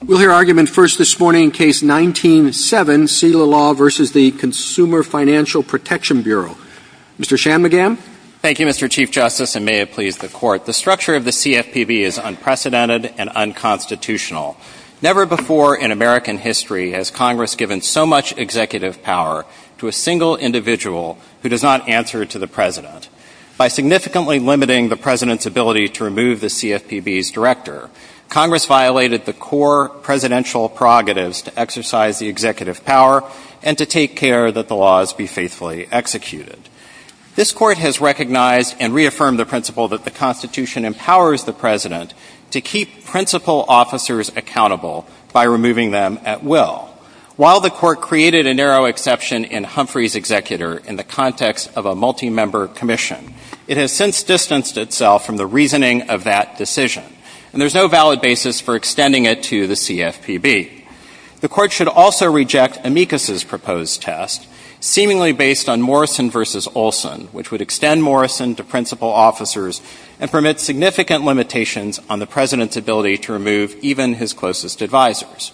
The structure of the CFPB is unprecedented and unconstitutional. Never before in American history has Congress given so much executive power to a single individual who does not answer to the President. By significantly limiting the President's ability to remove the CFPB's director, Congress violated the core presidential prerogatives to exercise the executive power and to take care that the laws be faithfully executed. This Court has recognized and reaffirmed the principle that the Constitution empowers the President to keep principal officers accountable by removing them at will. While the Court created a narrow exception in Humphrey's executor in the context of a multi-member commission, it has since distanced itself from the reasoning of that decision, and there is no valid basis for extending it to the CFPB. The Court should also reject Amicus's proposed test, seemingly based on Morrison v. Olson, which would extend Morrison to principal officers and permit significant limitations on the President's ability to remove even his closest advisors.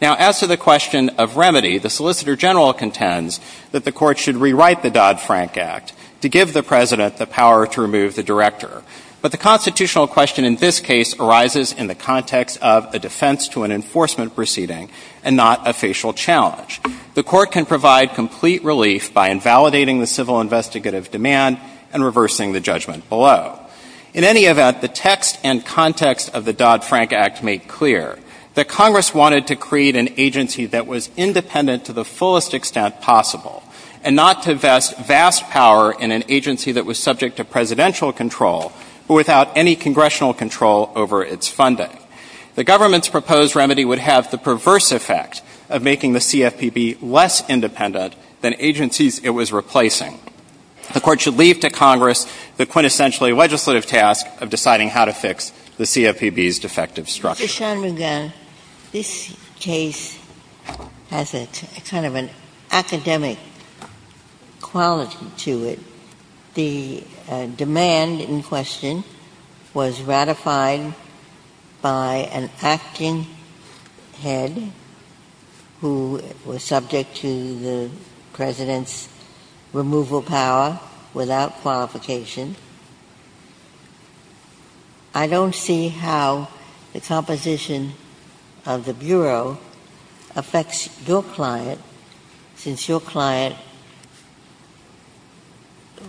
Now, as to the question of remedy, the Solicitor General contends that the Court should rewrite the Dodd-Frank Act to give the President the director, but the constitutional question in this case arises in the context of a defense to an enforcement proceeding and not a facial challenge. The Court can provide complete relief by invalidating the civil investigative demand and reversing the judgment below. In any event, the text and context of the Dodd-Frank Act make clear that Congress wanted to create an agency that was independent to the fullest extent possible and not to vest vast power in an agency that was subject to presidential control or without any congressional control over its funding. The government's proposed remedy would have the perverse effect of making the CFPB less independent than agencies it was replacing. The Court should leave to Congress the quintessentially legislative task of deciding how to fix the CFPB's defective structure. Mr. Shanmugam, this case has a kind of an academic quality to it. The demand in question was ratified by an acting head who was subject to the President's removal power without qualification. I don't see how the composition of the Bureau affects your client, since your client,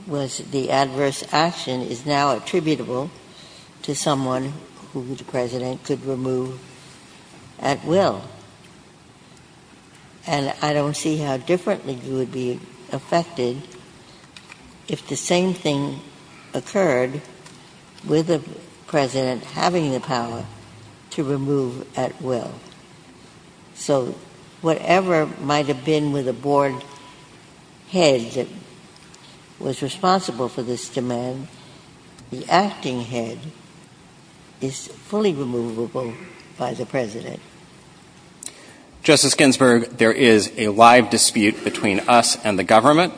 with the adverse action, is now attributable to someone who the President could remove at will. And I don't see how differently you would be affected if the same thing were to occur with the President having the power to remove at will. So whatever might have been with the Board head that was responsible for this demand, the acting head is fully removable by the President. Justice Ginsburg, there is a live dispute between us and the government.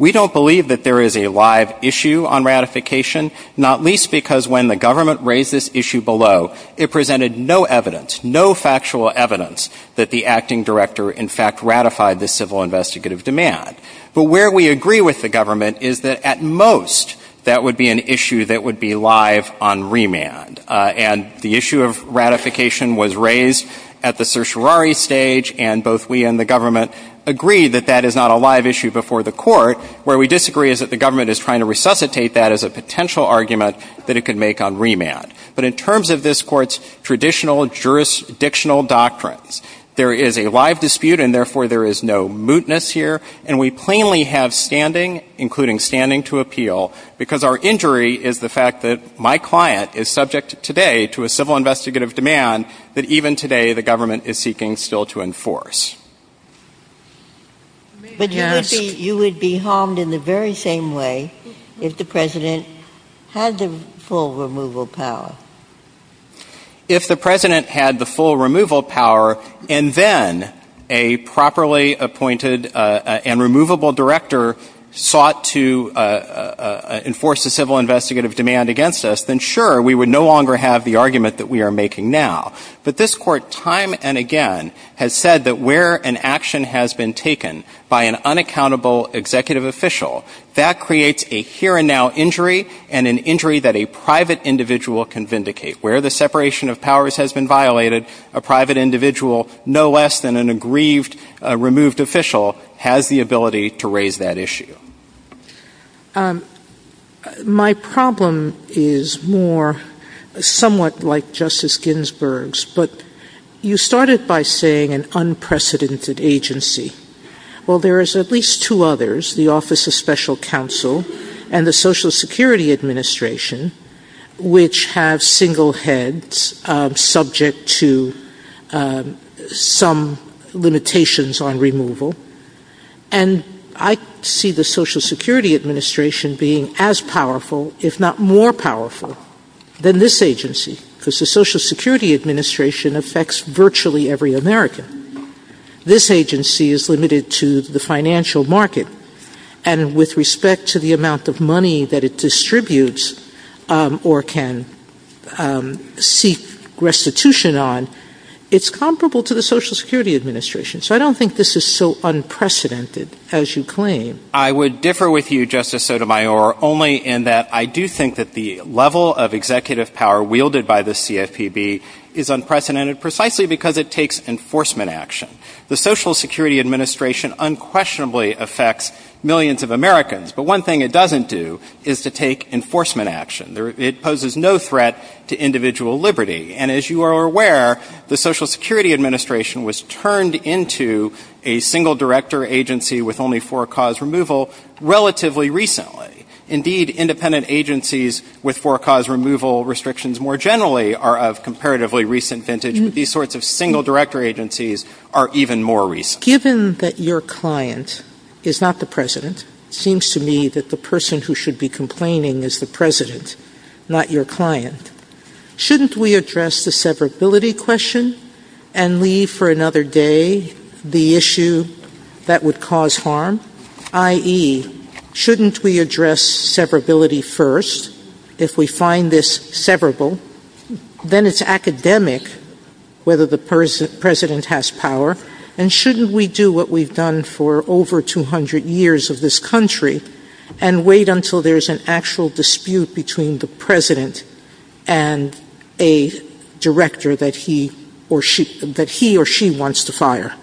We don't believe that there is a live issue on ratification, not least because when the government raised this issue below, it presented no evidence, no factual evidence, that the acting director in fact ratified the civil investigative demand. But where we agree with the government is that at most that would be an issue that would be live on remand. And the issue of ratification was raised at the certiorari stage, and both we and the government agree that that is not a live issue before the court. Where we disagree is that the government is trying to resuscitate that as a potential argument that it could make on remand. But in terms of this Court's traditional jurisdictional doctrines, there is a live dispute, and therefore there is no mootness here. And we plainly have standing, including standing to appeal, because our injury is the fact that my client is subject today to a civil investigative demand that even today the government is seeking still to enforce. But you would be harmed in the very same way if the President had the full removal power. If the President had the full removal power, and then a properly appointed and removable director sought to enforce the civil investigative demand against us, then sure, we would no longer have the argument that we are making now. But this Court time and again has said that where an action has been taken by an unaccountable executive official, that creates a here and now injury, and an injury that a private individual can vindicate. Where the separation of powers has been violated, a private individual, no less than an aggrieved removed official, has the ability to raise that issue. My problem is more somewhat like Justice Ginsburg's. But you started by saying an unprecedented agency. Well, there is at least two others, the Office of Special Counsel and the Social Security Administration, which have single heads subject to some limitations on their removal. And I see the Social Security Administration being as powerful, if not more powerful, than this agency, because the Social Security Administration affects virtually every American. This agency is limited to the financial market, and with respect to the amount of money that it distributes or can seek restitution on, it's comparable to the Social Security Administration. So I don't think this is so unprecedented, as you claim. I would differ with you, Justice Sotomayor, only in that I do think that the level of executive power wielded by the CFPB is unprecedented, precisely because it takes enforcement action. The Social Security Administration unquestionably affects millions of Americans. But one thing it doesn't do is to take enforcement action. It poses no threat to individual liberty. And as you are aware, the Social Security Administration was turned into a single-director agency with only four-cause removal relatively recently. Indeed, independent agencies with four-cause removal restrictions more generally are of comparatively recent vintage. These sorts of single-director agencies are even more recent. Given that your client is not the President, it seems to me that the person who should be complaining is the President, not your client. Shouldn't we address the severability question and leave for another day the issue that would cause harm, i.e., shouldn't we address severability first if we find this severable? Then it's academic whether the President has power, and shouldn't we do what we've done for over 200 years of this country and wait until there's an actual dispute between the President and a director that he or she wants to fire?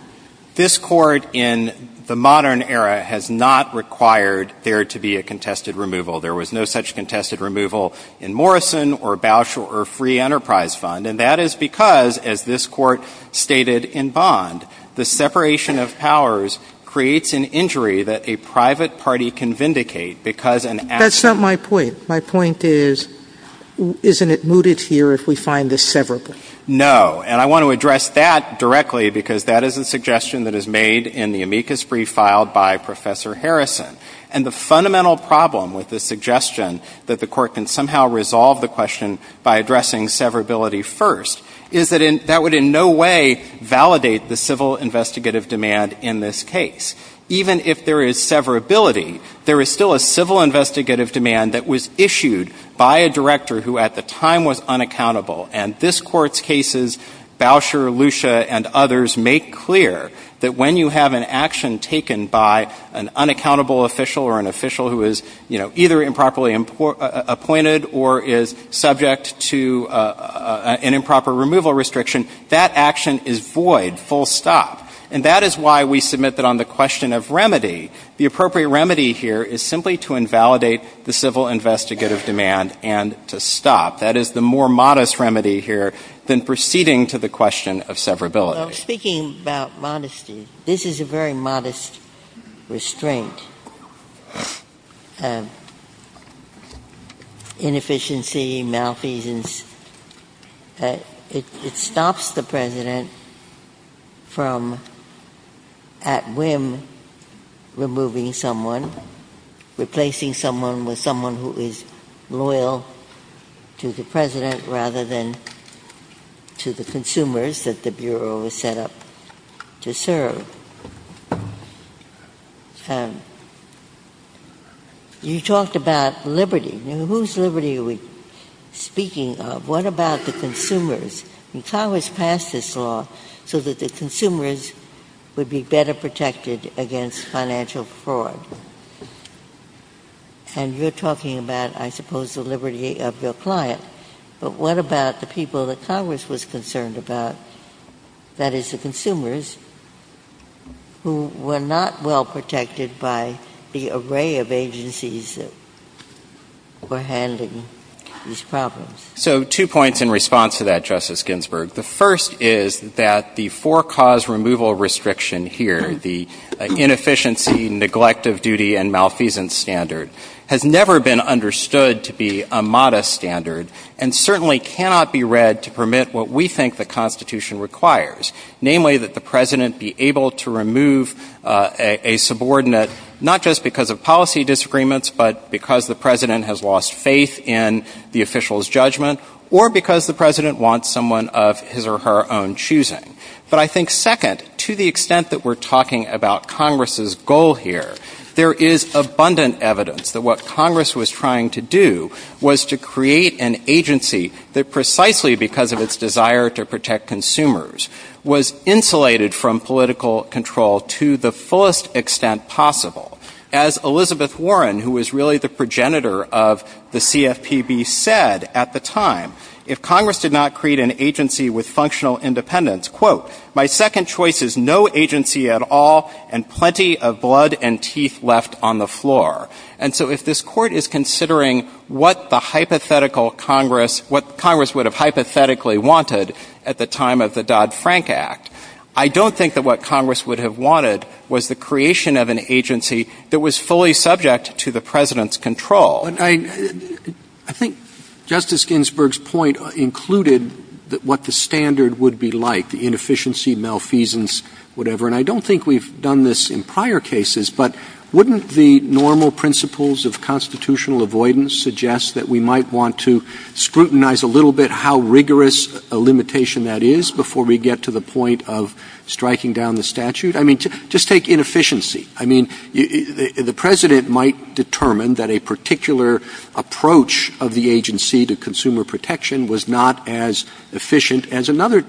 This Court in the modern era has not required there to be a contested removal. There was no such contested removal in Morrison or Bausch or Free Enterprise Fund, and that is because, as this Court stated in Bond, the separation of powers creates an injury that a private party can vindicate because an actual... That's not my point. My point is, isn't it mooted here if we find this severable? No. And I want to address that directly because that is a suggestion that is made in the amicus brief filed by Professor Harrison. And the fundamental problem with the suggestion that the Court can somehow resolve the question by addressing severability first is that that would in no way validate the civil investigative demand in this case. Even if there is severability, there is still a civil investigative demand that was issued by a director who at the time was unaccountable. And this Court's cases, Bausch or Lucia and others, make clear that when you have an action taken by an unaccountable official or an official who is, you know, either improperly appointed or is subject to an improper removal restriction, that action is void, full stop. And that is why we submit that on the question of remedy, the appropriate remedy here is simply to invalidate the civil investigative demand and to stop. That is the more modest remedy here than proceeding to the question of severability. Speaking about modesty, this is a very modest restraint. Inefficiency, malfeasance, it stops the President from at whim removing someone, replacing someone with someone who is loyal to the President rather than to the consumers that the Bureau was set up to serve. And you talked about liberty. Now whose liberty are we speaking of? What about the consumers? And Congress passed this law so that the consumers would be better protected against financial fraud. And you're talking about, I suppose, the liberty of their client. But what about the people that Congress was concerned about, that is the consumers, who were not well protected by the array of agencies that were handling these problems? So two points in response to that, Justice Ginsburg. The first is that the four-cause removal restriction here, the inefficiency, neglect of duty, and malfeasance standard, has never been understood to be a modest standard and certainly cannot be read to permit what we think the Constitution requires, namely that the President be able to remove a subordinate not just because of policy disagreements, but because the President has lost faith in the official's judgment, or because the President wants someone of his or her own choosing. But I think second, to the extent that we're talking about Congress's goal here, there is abundant evidence that what Congress was trying to do was to create an agency that precisely because of its desire to protect consumers was insulated from political control to the fullest extent possible. As Elizabeth Warren, who was really the progenitor of the CFPB, said at the time, if Congress did not create an agency with functional independence, quote, my second choice is no agency at all and plenty of blood and teeth left on the floor. And so if this Court is considering what the hypothetical Congress, what Congress would have hypothetically wanted at the time of the Dodd-Frank Act, I don't think that what Congress would have wanted was the creation of an agency that was fully subject to the I think Justice Ginsburg's point included what the standard would be like, the inefficiency, malfeasance, whatever. And I don't think we've done this in prior cases, but wouldn't the normal principles of constitutional avoidance suggest that we might want to scrutinize a little bit how rigorous a limitation that is before we get to the point of striking down the statute? I mean, just take inefficiency. I mean, the President might determine that a particular approach of the agency to consumer protection was not as efficient as another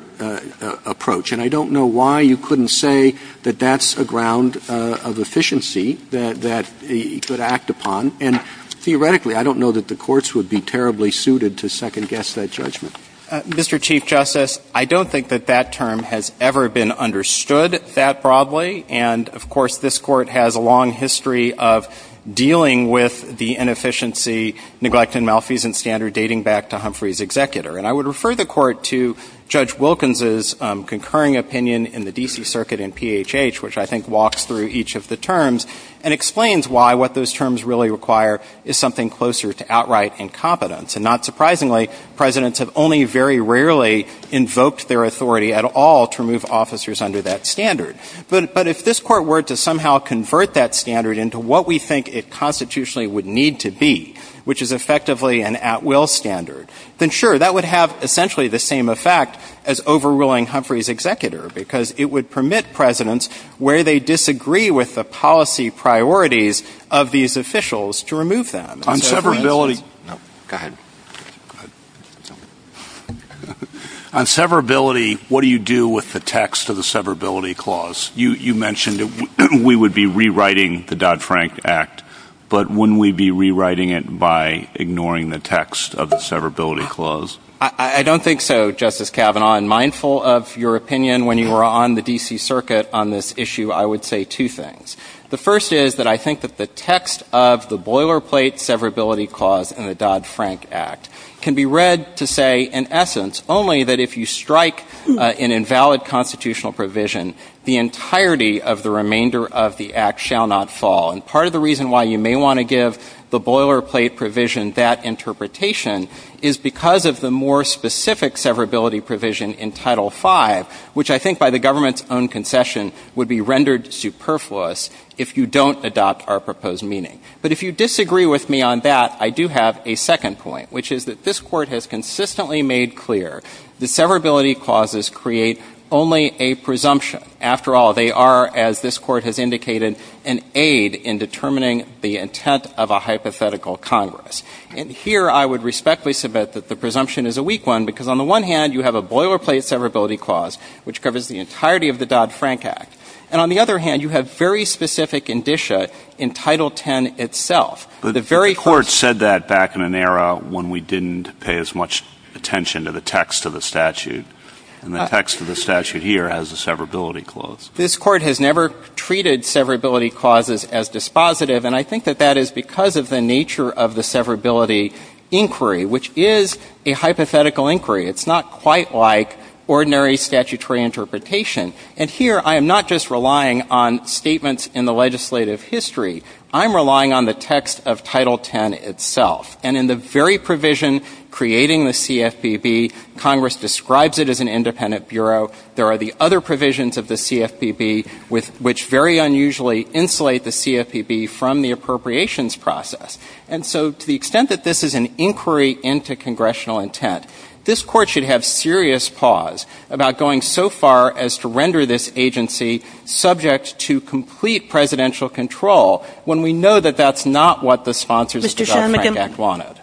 approach. And I don't know why you couldn't say that that's a ground of efficiency that he could act upon. And theoretically, I don't know that the courts would be terribly suited to second-guess that judgment. Mr. Chief Justice, I don't think that that term has ever been understood that broadly. And of course, this Court has a long history of dealing with the inefficiency, neglect, and malfeasance standard dating back to Humphrey's executor. And I would refer the Court to Judge Wilkins' concurring opinion in the D.C. Circuit in PHH, which I think walks through each of the terms and explains why what those terms really require is something closer to outright incompetence. And not surprisingly, presidents have only very rarely invoked their authority at all to remove officers under that standard. But if this Court were to somehow convert that standard into what we think it constitutionally would need to be, which is effectively an at-will standard, then sure, that would have essentially the same effect as overruling Humphrey's executor, because it would permit presidents, where they disagree with the policy priorities of these officials, to remove them. On severability, what do you do with the text of the severability clause? You mentioned that we would be rewriting the Dodd-Frank Act, but wouldn't we be rewriting it by ignoring the text of the severability clause? I don't think so, Justice Kavanaugh. I'm mindful of your opinion when you were on the D.C. Circuit on this issue. I would say two things. The first is that I think that the text of the boilerplate severability clause in the Dodd-Frank Act can be read to say, in essence, only that if you strike an invalid constitutional provision, the entirety of the remainder of the Act shall not fall. And part of the reason why you may want to give the boilerplate provision that interpretation is because of the more specific severability provision in Title V, which I think by the government's own concession would be rendered superfluous if you don't adopt our proposed meaning. But if you disagree with me on that, I do have a second point, which is that this Court has consistently made clear that severability clauses create only a presumption. After all, they are, as this Court has indicated, an aid in determining the intent of a hypothetical Congress. And here, I would respectfully submit that the presumption is a weak one, because on the one hand, you have a boilerplate severability clause, which covers the entirety of the Dodd-Frank Act. And on the other hand, you have very specific indicia in Title X itself. The very first— The Court said that back in an era when we didn't pay as much attention to the text of the statute. And the text of the statute here has a severability clause. This Court has never treated severability clauses as dispositive. And I think that that is because of the nature of the severability inquiry, which is a hypothetical inquiry. It's not quite like ordinary statutory interpretation. And here, I am not just relying on statements in the legislative history. I'm relying on the text of Title X itself. And in the very provision creating the CFPB, Congress describes it as an independent bureau. There are the other provisions of the CFPB, which very unusually insulate the CFPB from the appropriations process. And so, to the extent that this is an inquiry into congressional intent, this Court should have serious pause about going so far as to render this agency subject to complete presidential control when we know that that's not what the Sponsors of Development Act wanted.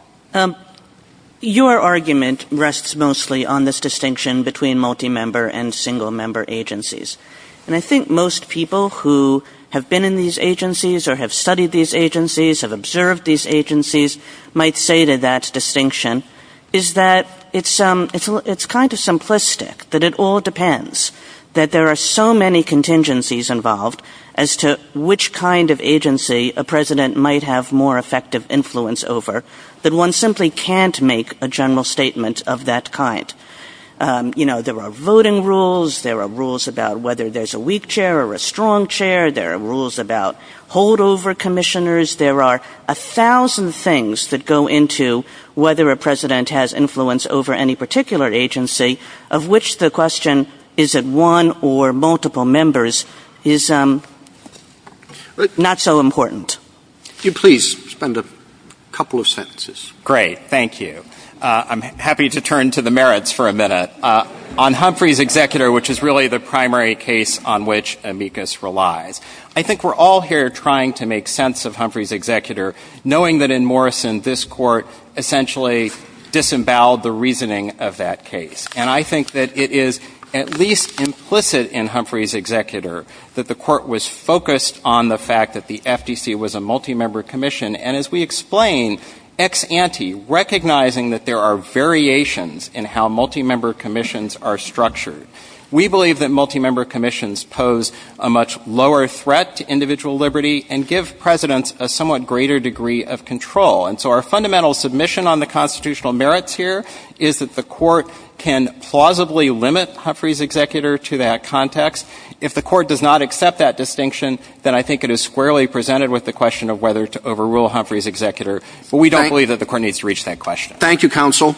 Your argument rests mostly on this distinction between multi-member and single-member agencies. And I think most people who have been in these agencies or have studied these agencies, have observed these agencies, might say that that distinction is that it's kind of simplistic, that it all depends, that there are so many contingencies involved as to which kind of agency a president might have more effective influence over, that one simply can't make a general statement of that kind. There are voting rules. There are rules about whether there's a weak chair or a strong chair. There are rules about holdover commissioners. There are a thousand things that go into whether a president has influence over any particular agency, of which the question, is it one or multiple members, is not so important. Could you please spend a couple of sentences? Great. Thank you. I'm happy to turn to the merits for a minute. On Humphrey's executor, which is really the primary case on which amicus relies, I think we're all here trying to make sense of Humphrey's executor, knowing that in Morrison, this court essentially disemboweled the reasoning of that case. And I think that it is at least implicit in Humphrey's executor that the court was focused on the fact that the FTC was a multi-member commission, and as we explain, ex ante, recognizing that there are variations in how multi-member commissions are structured. We believe that multi-member commissions pose a much lower threat to individual liberty and give presidents a somewhat greater degree of control. And so our fundamental submission on the constitutional merits here is that the court can plausibly limit Humphrey's executor to that context. If the court does not accept that distinction, then I think it is squarely presented with the question of whether to overrule Humphrey's executor. But we don't believe that the court needs to reach that question. Thank you, counsel.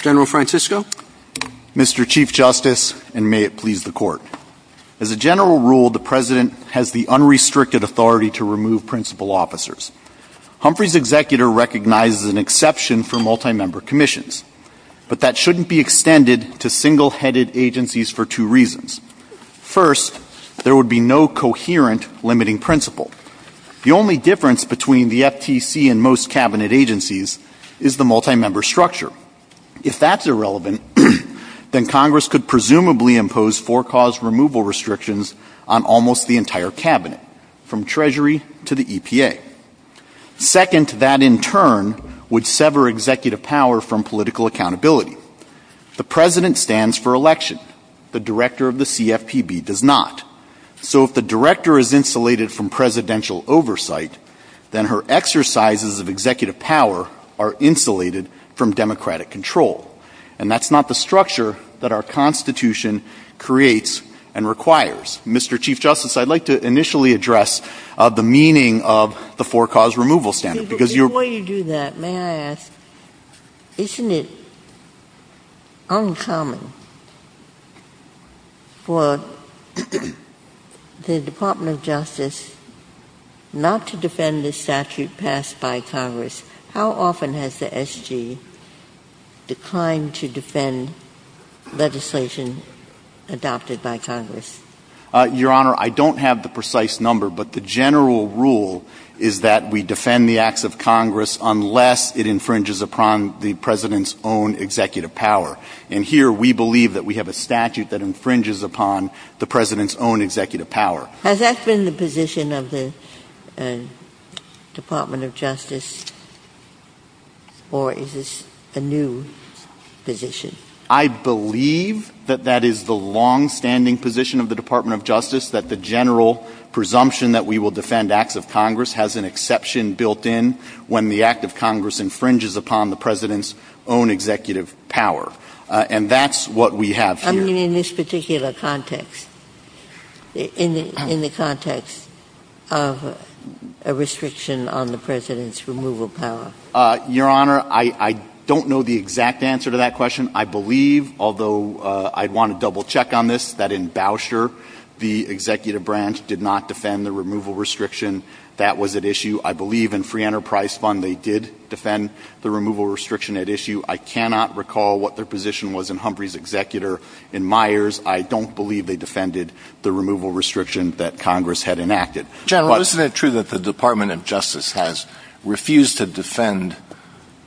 General Francisco. Mr. Chief Justice, and may it please the court. As a general rule, the president has the unrestricted authority to remove principal officers. Humphrey's executor recognizes an exception for multi-member commissions, but that shouldn't be extended to single-headed agencies for two reasons. First, there would be no coherent limiting principal. The only difference between the FTC and most cabinet agencies is the multi-member structure. If that's irrelevant, then Congress could presumably impose forecaused removal restrictions on almost the entire cabinet, from Treasury to the EPA. Second, that in turn would sever executive power from political accountability. The president stands for election. The director of the CFPB does not. So if the director is insulated from presidential oversight, then her exercises of executive power are insulated from democratic control. And that's not the structure that our Constitution creates and requires. Mr. Chief Justice, I'd like to initially address the meaning of the forecaused removal standard. Before you do that, may I ask, isn't it uncommon for the Department of Justice not to defend the statute passed by Congress? How often has the SG declined to defend legislation adopted by Congress? Your Honor, I don't have the precise number, but the general rule is that we defend the acts of Congress unless it infringes upon the president's own executive power. And here we believe that we have a statute that infringes upon the president's own executive power. Has that been the position of the Department of Justice, or is this a new position? I believe that that is the longstanding position of the Department of Justice, that the general presumption that we will defend acts of Congress has an exception built in when the act of Congress infringes upon the president's own executive power. And that's what we have here. I mean, in this particular context, in the context of a restriction on the president's removal power. Your Honor, I don't know the exact answer to that question. I believe, although I'd want to double check on this, that in Bousher, the executive branch did not defend the removal restriction that was at issue. I believe in Free Enterprise Fund, they did defend the removal restriction at issue. I cannot recall what their position was in Humphrey's executor. In Myers, I don't believe they defended the removal restriction that Congress had enacted. General, isn't it true that the Department of Justice has refused to defend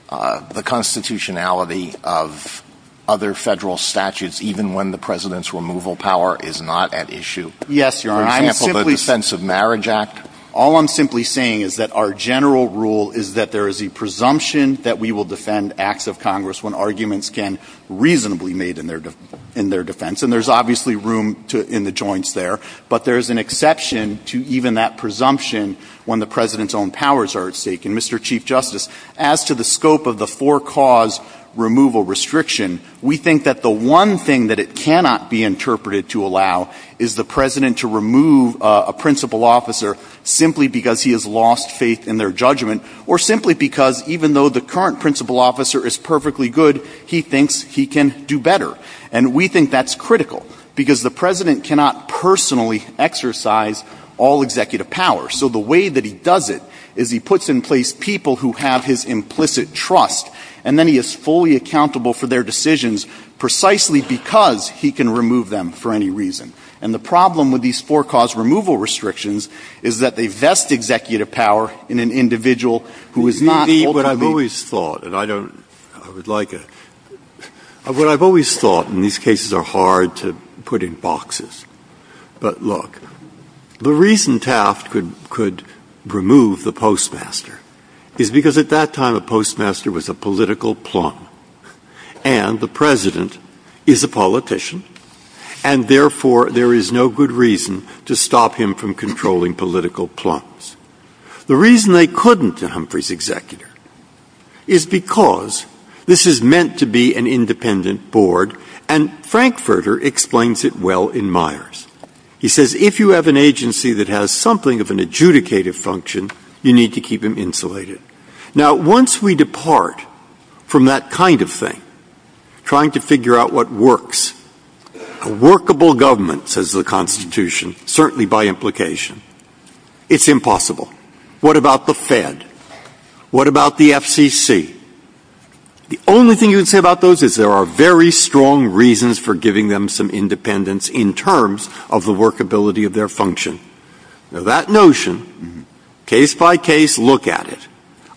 the constitutionality of other federal statutes, even when the president's removal power is not at issue? Yes, Your Honor. For example, the Defense of Marriage Act? All I'm simply saying is that our general rule is that there is a presumption that we will defend acts of Congress when arguments can reasonably be made in their defense. And there's obviously room in the joints there, but there's an exception to even that presumption when the president's own powers are at stake. And Mr. Chief Justice, as to the scope of the four-cause removal restriction, we think that the one thing that it cannot be interpreted to allow is the president to remove a principal officer simply because he has lost faith in their judgment, or simply because even though the current principal officer is perfectly good, he thinks he can do better. And we think that's critical, because the president cannot personally exercise all executive power. So the way that he does it is he puts in place people who have his implicit trust, and then he is fully accountable for their decisions precisely because he can remove them for any reason. And the problem with these four-cause removal restrictions is that they vest executive power in an individual who is not ultimately accountable for their decisions. I've always thought, and I don't, I would like a, what I've always thought, and these cases are hard to put in boxes, but look, the reason Taft could remove the postmaster is because at that time a postmaster was a political plumb, and the president is a politician, and therefore there is no good reason to stop him from controlling political plumbs. The reason they couldn't to Humphrey's executive is because this is meant to be an independent board, and Frankfurter explains it well in Myers. He says if you have an agency that has something of an adjudicative function, you need to keep them insulated. Now once we depart from that kind of thing, trying to figure out what works, a workable government says the Constitution, certainly by implication. It's impossible. What about the Fed? What about the FCC? The only thing you can say about those is there are very strong reasons for giving them some independence in terms of the workability of their function. Now that notion, case by case, look at it.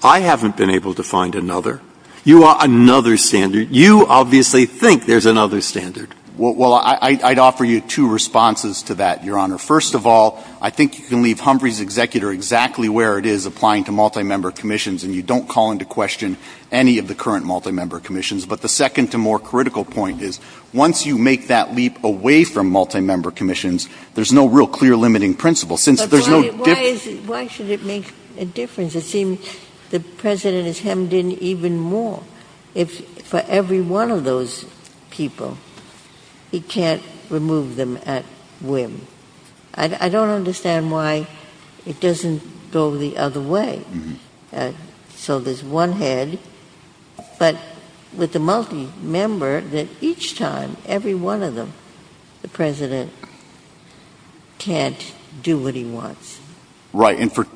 I haven't been able to find another. You are another standard. Well, I'd offer you two responses to that, Your Honor. First of all, I think you can leave Humphrey's executor exactly where it is applying to multi-member commissions and you don't call into question any of the current multi-member commissions, but the second and more critical point is once you make that leap away from multi-member commissions, there's no real clear limiting principle. Why should it make a difference? It seems the President is hemmed in even more. If for every one of those people, he can't remove them at whim. I don't understand why it doesn't go the other way. So there's one head, but with the multi-member, that each time, every one of them, the President can't do what he wants. Right, and for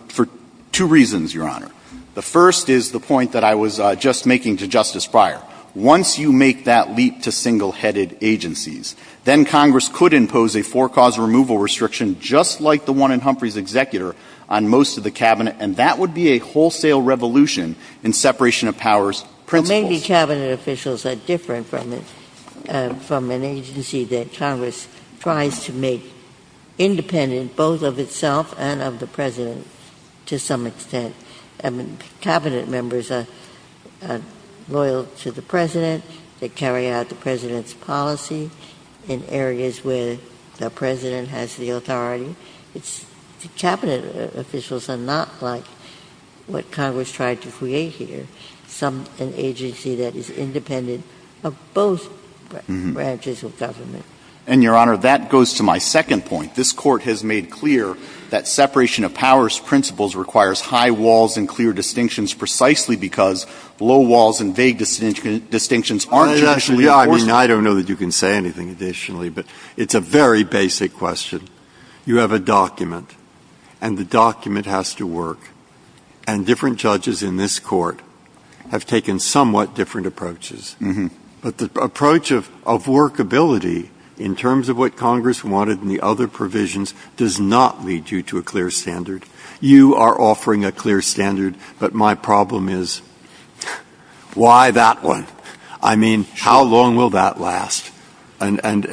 two reasons, Your Honor. The first is the point that I was just making to Justice Breyer. Once you make that leap to single-headed agencies, then Congress could impose a four-cause removal restriction just like the one in Humphrey's executor on most of the Cabinet, and that would be a wholesale revolution in separation of powers principles. Maybe Cabinet officials are different from an agency that Congress tries to make independent both of itself and of the President, to some extent. Cabinet members are loyal to the President. They carry out the President's policy in areas where the President has the authority. Cabinet officials are not like what Congress tried to create here, an agency that is independent of both branches of government. And Your Honor, that goes to my second point. This Court has made clear that separation of powers principles requires high walls and clear distinctions precisely because low walls and vague distinctions aren't traditionally enforced. I don't know that you can say anything additionally, but it's a very basic question. You have a document, and the document has to work. And different judges in this Court have taken somewhat different approaches. But the approach of workability in terms of what Congress wanted in the other provisions does not lead you to a clear standard. You are offering a clear standard, but my problem is, why that one? I mean, how long will that last? I don't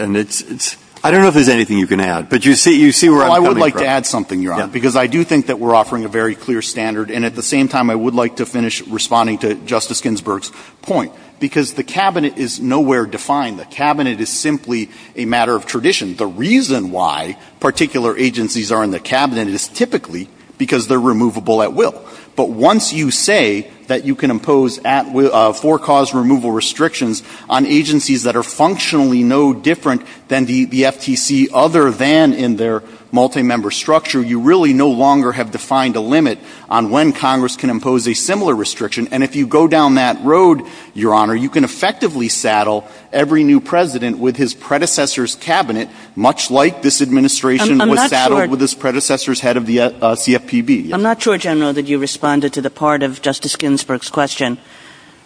know if there's anything you can add, but you see where I'm coming from. Well, I would like to add something, Your Honor, because I do think that we're offering a very clear standard. And at the same time, I would like to finish responding to Justice Ginsburg's point, because the Cabinet is nowhere defined. The Cabinet is simply a matter of tradition. The reason why particular agencies are in the Cabinet is typically because they're removable at will. But once you say that you can impose for-cause removal restrictions on agencies that are functionally no different than the FTC other than in their multi-member structure, you really no longer have defined a limit on when Congress can impose a similar restriction. And if you go down that road, Your Honor, you can effectively saddle every new president with his predecessor's Cabinet, much like this administration was saddled with its predecessor's head of the CFPB. I'm not sure, General, that you responded to the part of Justice Ginsburg's question,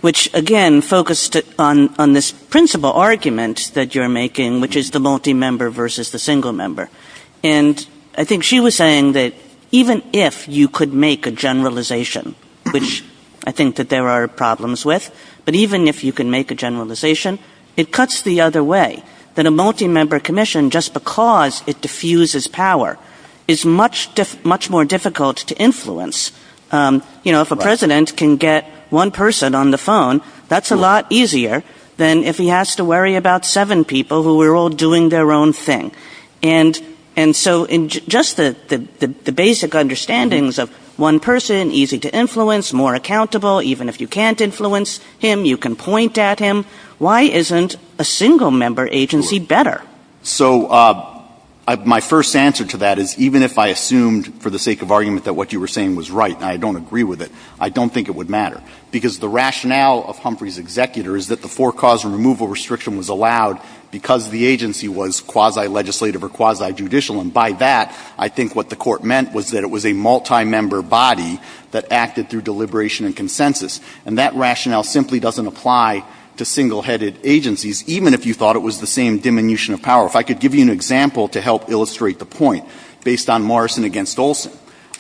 which again focused on this principal argument that you're making, which is the multi-member versus the single member. And I think she was saying that even if you could make a generalization, which I think that there are problems with, but even if you can make a generalization, it cuts the other way, that a multi-member commission, just because it diffuses power, is much more difficult to influence. If a president can get one person on the phone, that's a lot easier than if he has to worry about seven people who are all doing their own thing. And so just the basic understandings of one person, easy to influence, more accountable, even if you can't influence him, you can point at him. Why isn't a single member agency better? So my first answer to that is, even if I assumed for the sake of argument that what you were saying was right, and I don't agree with it, I don't think it would matter. Because the rationale of Humphrey's executor is that the four-cause removal restriction was allowed because the agency was quasi-legislative or quasi-judicial. And by that, I think what the court meant was that it was a multi-member body that acted through deliberation and consensus. And that rationale simply doesn't apply to single-headed agencies, even if you thought it was the same diminution of power. If I could give you an example to help illustrate the point, based on Morrison against Olson,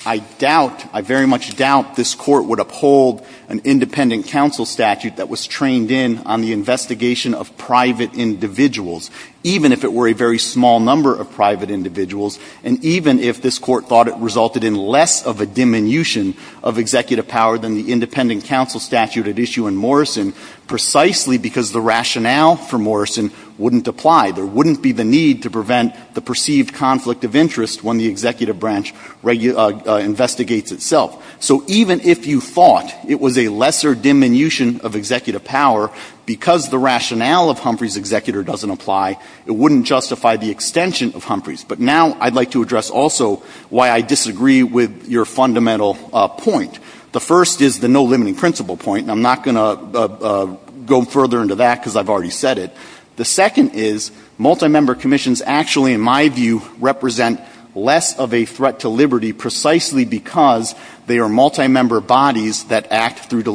I doubt, I very much doubt this court would uphold an independent counsel statute that was trained in on the investigation of private individuals, even if it were a very small number of private individuals, and even if this court thought it resulted in less of a diminution of executive power than the independent counsel statute at issue in Morrison, precisely because the rationale for Morrison wouldn't apply. There wouldn't be the need to prevent the perceived conflict of interest when the executive branch investigates itself. So even if you thought it was a lesser diminution of executive power, because the rationale of Humphrey's executor doesn't apply, it wouldn't justify the extension of Humphrey's. But now I'd like to address also why I disagree with your fundamental point. The first is the no limiting principle point, and I'm not going to go further into that because I've already said it. The second is multi-member commissions actually, in my view, represent less of a threat to liberty precisely because they are multi-member bodies that act through their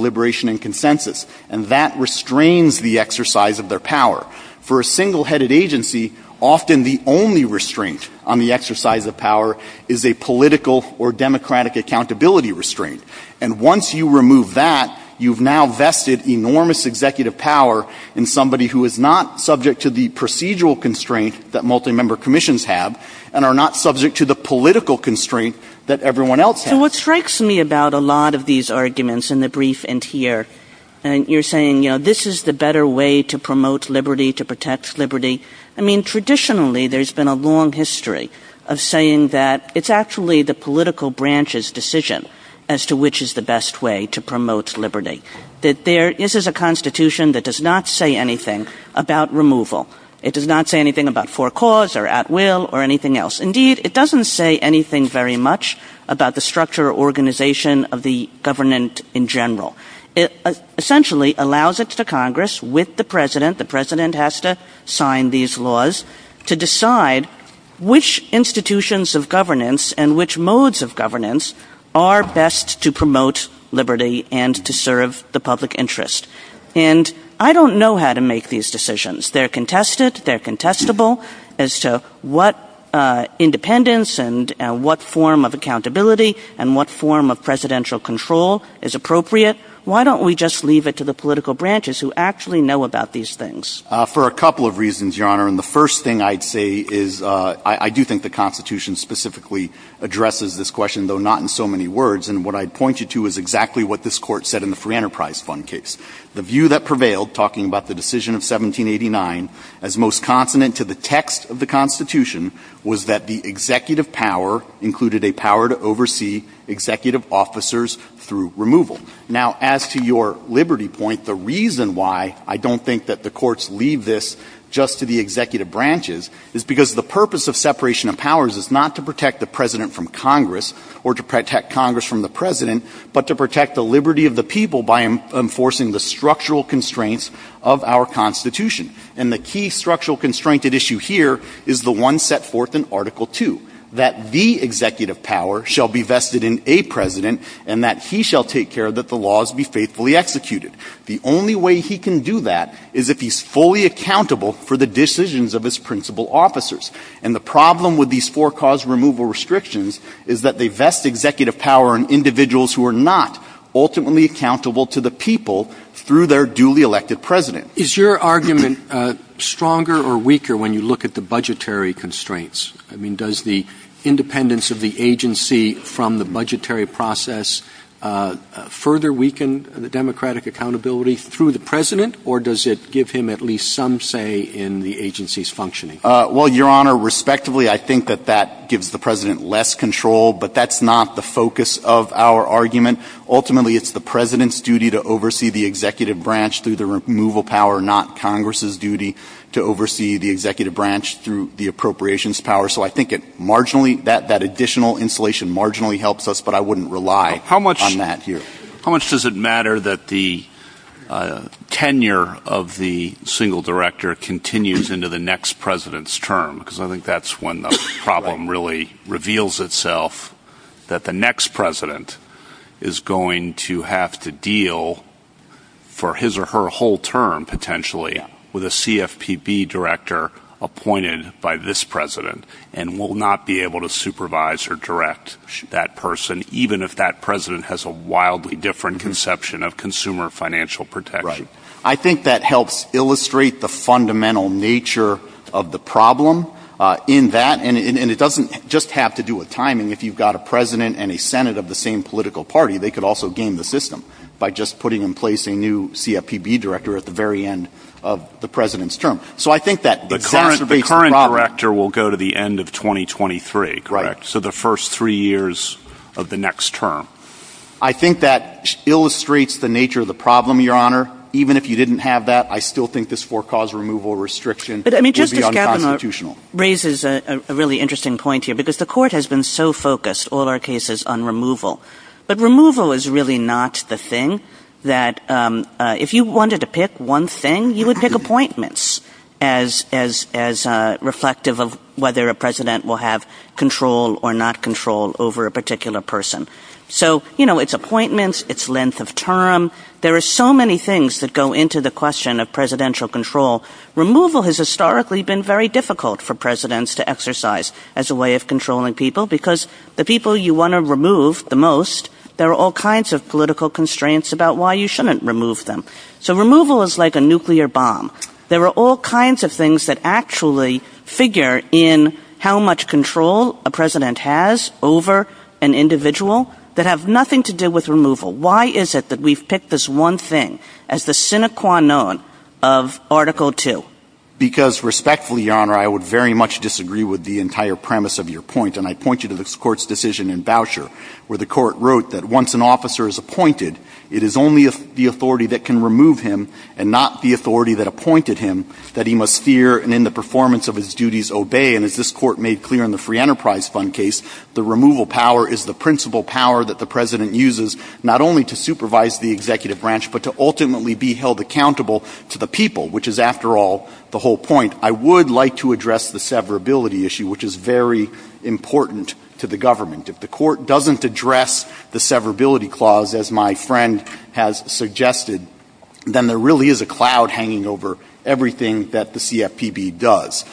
power. For a single-headed agency, often the only restraint on the exercise of power is a political or democratic accountability restraint. And once you remove that, you've now vested enormous executive power in somebody who is not subject to the procedural constraint that multi-member commissions have and are not subject to the political constraint that everyone else has. What strikes me about a lot of these arguments in the brief and here, and you're saying this is the better way to promote liberty, to protect liberty. I mean, traditionally, there's been a long history of saying that it's actually the political branch's decision as to which is the best way to promote liberty. This is a constitution that does not say anything about removal. It does not say anything about for cause or at will or anything else. Indeed, it doesn't say anything very much about the structure or organization of the government in general. It essentially allows it to Congress with the president. The president has to sign these laws to decide which institutions of governance and which modes of governance are best to promote liberty and to serve the public interest. And I don't know how to make these decisions. They're contested. They're contestable as to what independence and what form of accountability and what form of presidential control is appropriate. Why don't we just leave it to the political branches who actually know about these things? For a couple of reasons, Your Honor. And the first thing I'd say is I do think the constitution specifically addresses this question, though not in so many words. And what I point you to is exactly what this court said in the Free Enterprise Fund case. The view that prevailed, talking about the decision of 1789, as most consonant to the text of the constitution was that the executive power included a power to oversee executive officers through removal. Now, as to your liberty point, the reason why I don't think that the courts leave this just to the executive branches is because the purpose of separation of powers is not to protect the president from Congress or to protect Congress from the president, but to protect the liberty of the people by enforcing the structural constraints of our constitution. And the key structural constraint at issue here is the one set forth in Article 2, that the executive power shall be vested in a president and that he shall take care that the laws be faithfully executed. The only way he can do that is if he's fully accountable for the decisions of his principal officers. And the problem with these four cause removal restrictions is that they vest executive power on individuals who are not ultimately accountable to the people through their duly elected president. Is your argument stronger or weaker when you look at the budgetary constraints? I mean, does the independence of the agency from the budgetary process further weaken the democratic accountability through the president, or does it give him at least some say in the agency's functioning? Well, Your Honor, respectively, I think that that gives the president less control, but that's not the focus of our argument. Ultimately, it's the president's duty to oversee the principal power, not Congress's duty to oversee the executive branch through the appropriations power. So I think that additional insulation marginally helps us, but I wouldn't rely on that here. How much does it matter that the tenure of the single director continues into the next president's term? Because I think that's when the problem really reveals itself, that the with a CFPB director appointed by this president and will not be able to supervise or direct that person, even if that president has a wildly different conception of consumer financial protection. I think that helps illustrate the fundamental nature of the problem in that, and it doesn't just have to do with timing. If you've got a president and a Senate of the same political party, they could also game the system by just putting in place a new CFPB director at the very end of the president's term. So I think that the current director will go to the end of 2023, correct? So the first three years of the next term. I think that illustrates the nature of the problem, Your Honor. Even if you didn't have that, I still think this forecaused removal restriction. But I mean, Justice Gaffney raises a really interesting point here, because the court has been so focused, all our cases, on removal. But removal is really not the thing, that if you wanted to pick one thing, you would pick appointments as reflective of whether a president will have control or not control over a particular person. So, you know, it's appointments, it's length of term. There are so many things that go into the question of presidential control. Removal has historically been very difficult for presidents to exercise as a way of controlling people because the people you want to remove the most, there are all kinds of political constraints about why you shouldn't remove them. So removal is like a nuclear bomb. There are all kinds of things that actually figure in how much control a president has over an individual that have nothing to do with removal. Why is it that we've picked this one thing as the sine qua non of Article 2? Because respectfully, Your Honor, I would very much disagree with the entire premise of your point. And I point you to the court's decision in Boucher, where the court wrote that once an officer is appointed, it is only the authority that can remove him and not the authority that appointed him that he must fear and in the performance of his duties obey. And as this court made clear in the Free Enterprise Fund case, the removal power is the principal power that the president uses not only to supervise the executive branch, but to ultimately be held accountable to the people, which is, after all, the whole point. I would like to address the severability issue, which is very important to the government. If the court doesn't address the severability clause, as my friend has suggested, then there really is a cloud hanging over everything that the CFPB does.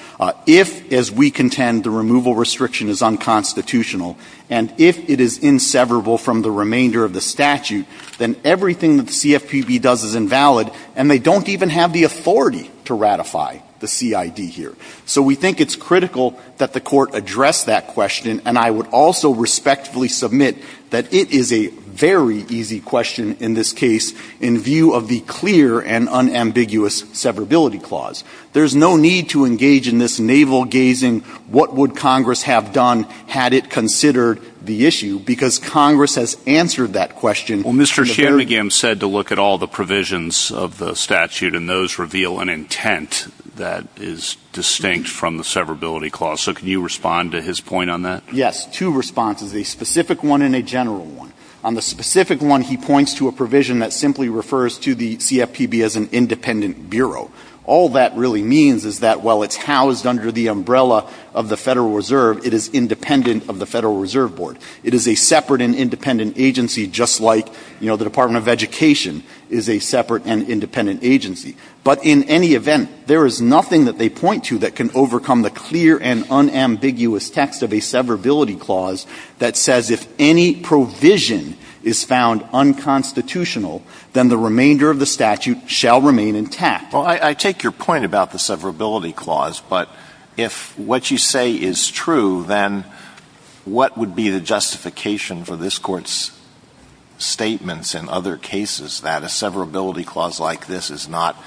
If, as we contend, the removal restriction is unconstitutional, and if it is inseverable from the remainder of the statute, then everything that the CFPB does is invalid, and they don't even have the authority to ratify the CID here. So we think it's critical that the court address that question, and I would also respectfully submit that it is a very easy question in this case in view of the clear and unambiguous severability clause. There's no need to engage in this navel-gazing, what would Congress have done had it considered the issue, because Congress has answered that question. Well, Mr. Chairman, again, I'm sad to look at all the provisions of the statute, and those reveal an intent that is distinct from the severability clause. So can you respond to his point on that? Yes, two responses, a specific one and a general one. On the specific one, he points to a provision that simply refers to the CFPB as an independent bureau. All that really means is that while it's housed under the umbrella of the Federal Reserve, it is independent of the Federal Reserve Board. It is a separate and independent agency, just like the Department of Education is a separate and independent agency. But in any event, there is nothing that they point to that can overcome the clear and unambiguous text of a severability clause that says if any provision is found unconstitutional, then the remainder of the statute shall remain intact. Well, I take your point about the severability clause, but if what you say is true, then what would be the justification for this Court's statements in other cases that a severability clause like this is not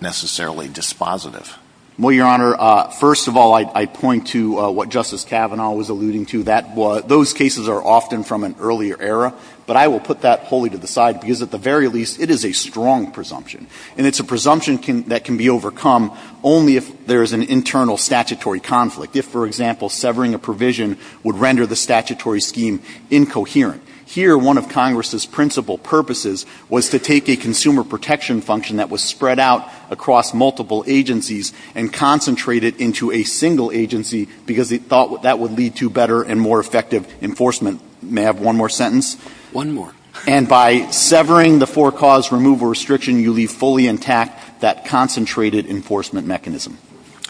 necessarily dispositive? Well, Your Honor, first of all, I point to what Justice Kavanaugh was alluding to. Those cases are often from an earlier era, but I will put that wholly to the side because at the very least, it is a strong presumption. And it's a presumption that can be overcome only if there is an internal statutory conflict. If, for example, severing a provision would render the statutory scheme incoherent. Here, one of Congress's principal purposes was to take a consumer protection function that was spread out across multiple agencies and concentrate it into a single agency because they thought that would lead to better and more effective enforcement. May I have one more sentence? One more. And by severing the four-cause removal restriction, you leave fully intact that concentrated enforcement mechanism.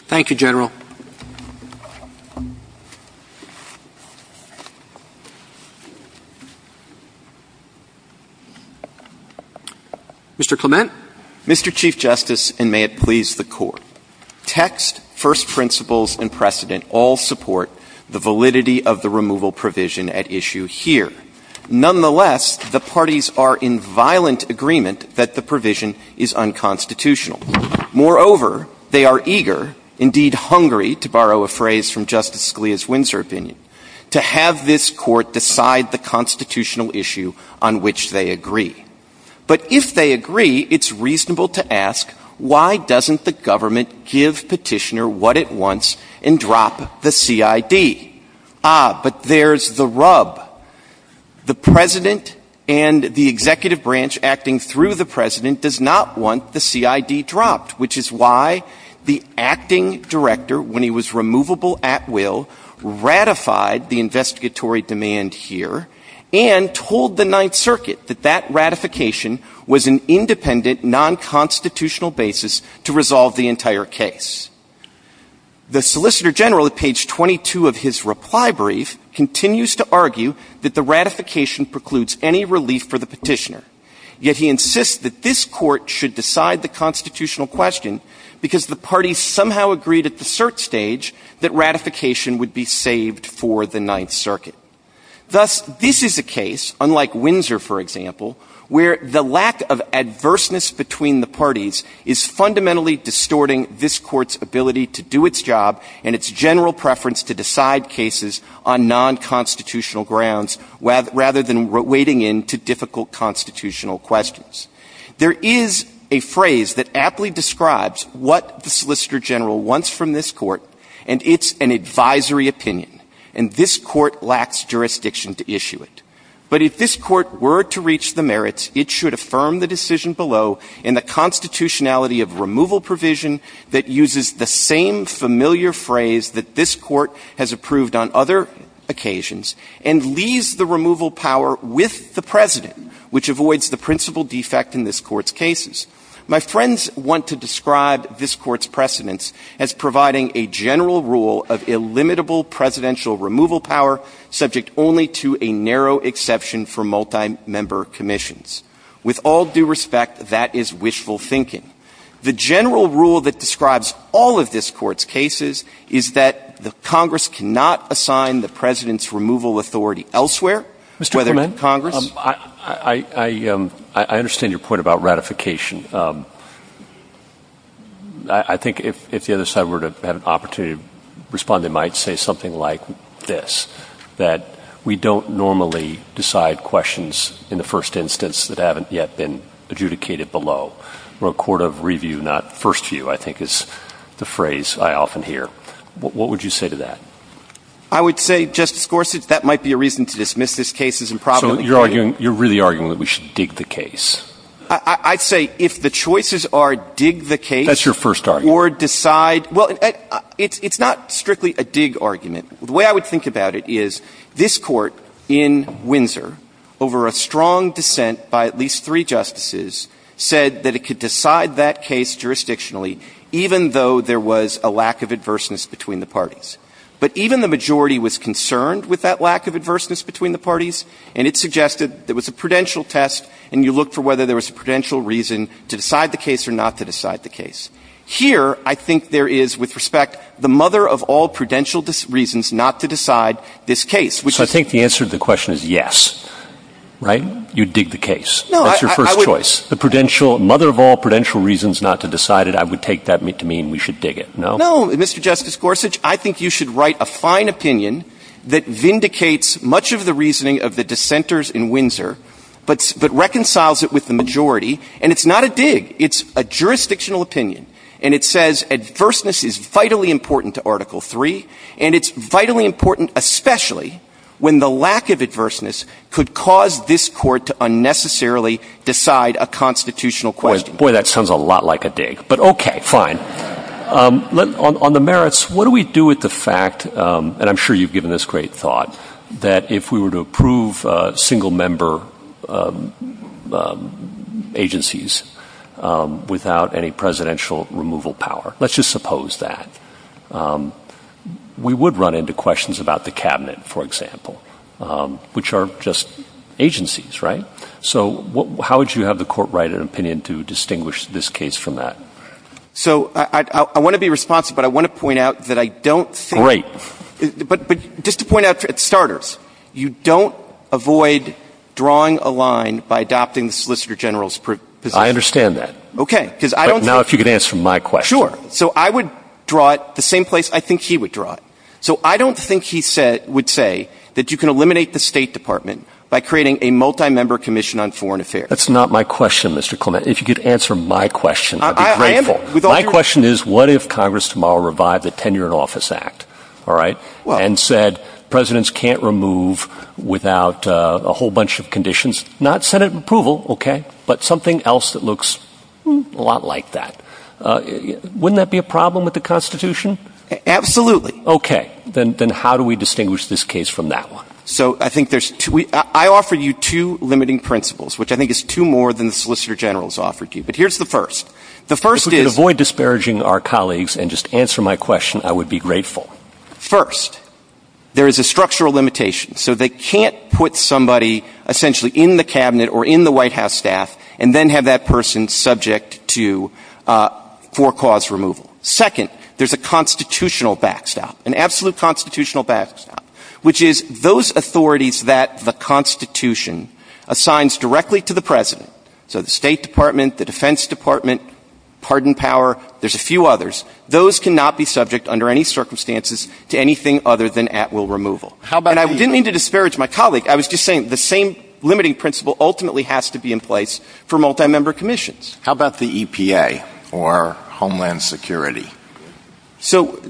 Thank you, General. Mr. Clement? Mr. Chief Justice, and may it please the Court, text, first principles, and precedent all support the validity of the removal provision at issue here. Nonetheless, the parties are in violent agreement that the provision is unconstitutional. Moreover, they are eager, indeed hungry, to borrow a phrase from Justice Scalia's Windsor opinion, to have this Court decide the constitutional issue on which they agree. But if they agree, it's reasonable to ask, why doesn't the government give Petitioner what it wants and drop the CID? Ah, but there's a rub. The President and the executive branch acting through the President does not want the CID dropped, which is why the acting director, when he was removable at will, ratified the investigatory demand here and told the Ninth Circuit that that ratification was an independent, non-constitutional basis to resolve the entire case. The Solicitor General, at page 22 of his reply brief, continues to argue that the ratification precludes any relief for the Petitioner. Yet he insists that this Court should decide the constitutional question because the parties somehow agreed at the cert stage that ratification would be saved for the Ninth Circuit. Thus, this is a case, unlike Windsor, for example, where the lack of adverseness between the parties is fundamentally distorting this Court's ability to do its job and its general preference to decide cases on non-constitutional grounds rather than wading into difficult constitutional questions. There is a phrase that aptly describes what the Solicitor General wants from this Court, and it's an advisory opinion. And this Court were to reach the merits, it should affirm the decision below and the constitutionality of removal provision that uses the same familiar phrase that this Court has approved on other occasions, and leaves the removal power with the President, which avoids the principal defect in this Court's cases. My friends want to describe this Court's precedence as providing a general rule of illimitable presidential removal power, subject only to a narrow exception for multi-member commissions. With all due respect, that is wishful thinking. The general rule that describes all of this Court's cases is that the Congress cannot assign the President's removal authority elsewhere, whether it's Congress. Mr. Clement, I understand your point about ratification. I think if the other side were to have had an opportunity to respond, they might say something like this, that we don't normally decide questions in the first instance that haven't yet been adjudicated below. We're a court of review, not first view, I think is the phrase I often hear. What would you say to that? I would say, Justice Gorsuch, that might be a reason to dismiss this case as improbable. So you're arguing, you're really arguing that we should dig the case? I'd say if the choices are dig the case... That's your first argument. ...or decide, well, it's not strictly a dig argument. The way I would think about it is this Court in Windsor, over a strong dissent by at least three justices, said that it could decide that case jurisdictionally, even though there was a lack of adverseness between the parties. But even the majority was concerned with that lack of adverseness between the parties, and it suggested it was a prudential test, and you looked for whether there was a prudential reason to decide the case or not to decide the case. Here I think there is, with respect, the mother of all prudential reasons not to decide this case. So I think the answer to the question is yes, right? You'd dig the case. That's your first choice. The mother of all prudential reasons not to decide it, I would take that to mean we should dig it, no? No, Mr. Justice Gorsuch, I think you should write a fine opinion that vindicates much of the reasoning of the dissenters in Windsor, but reconciles it with the majority. And it's not a dig, it's a jurisdictional opinion, and it says adverseness is vitally important to Article III, and it's vitally important especially when the lack of adverseness could cause this Court to unnecessarily decide a constitutional question. Boy, that sounds a lot like a dig, but okay, fine. On the merits, what do we do with the fact, and I'm sure you've given this great thought, that if we were to approve single We would run into questions about the Cabinet, for example, which are just agencies, right? So how would you have the Court write an opinion to distinguish this case from that? So I want to be responsive, but I want to point out that I don't say— Great. But just to point out, at starters, you don't avoid drawing a line by adopting the Solicitor General's provision. I understand that. Okay, because I don't— But now if you could answer my question. Sure. So I would draw it the same place I think he would draw it. So I don't think he would say that you can eliminate the State Department by creating a multi-member Commission on Foreign Affairs. That's not my question, Mr. Clement. If you could answer my question, I'd be grateful. My question is, what if Congress tomorrow revived the Tenure in Office Act, all right, and said presidents can't remove without a whole bunch of conditions—not Senate approval, okay, but something else that looks a lot like that. Wouldn't that be a problem with the Constitution? Absolutely. Okay. Then how do we distinguish this case from that one? So I think there's two—I offer you two limiting principles, which I think is two more than the Solicitor General's offered you. But here's the first. The first is— If you could avoid disparaging our colleagues and just answer my question, I would be grateful. First, there is a structural limitation. So they can't put somebody essentially in the White House staff and then have that person subject to—for cause removal. Second, there's a constitutional backstop, an absolute constitutional backstop, which is those authorities that the Constitution assigns directly to the president—so the State Department, the Defense Department, pardon power, there's a few others—those cannot be subject under any circumstances to anything other than at-will removal. How about— And I didn't mean to disparage my colleague. I was just saying the same limiting principle ultimately has to be in place for multi-member commissions. How about the EPA or Homeland Security? So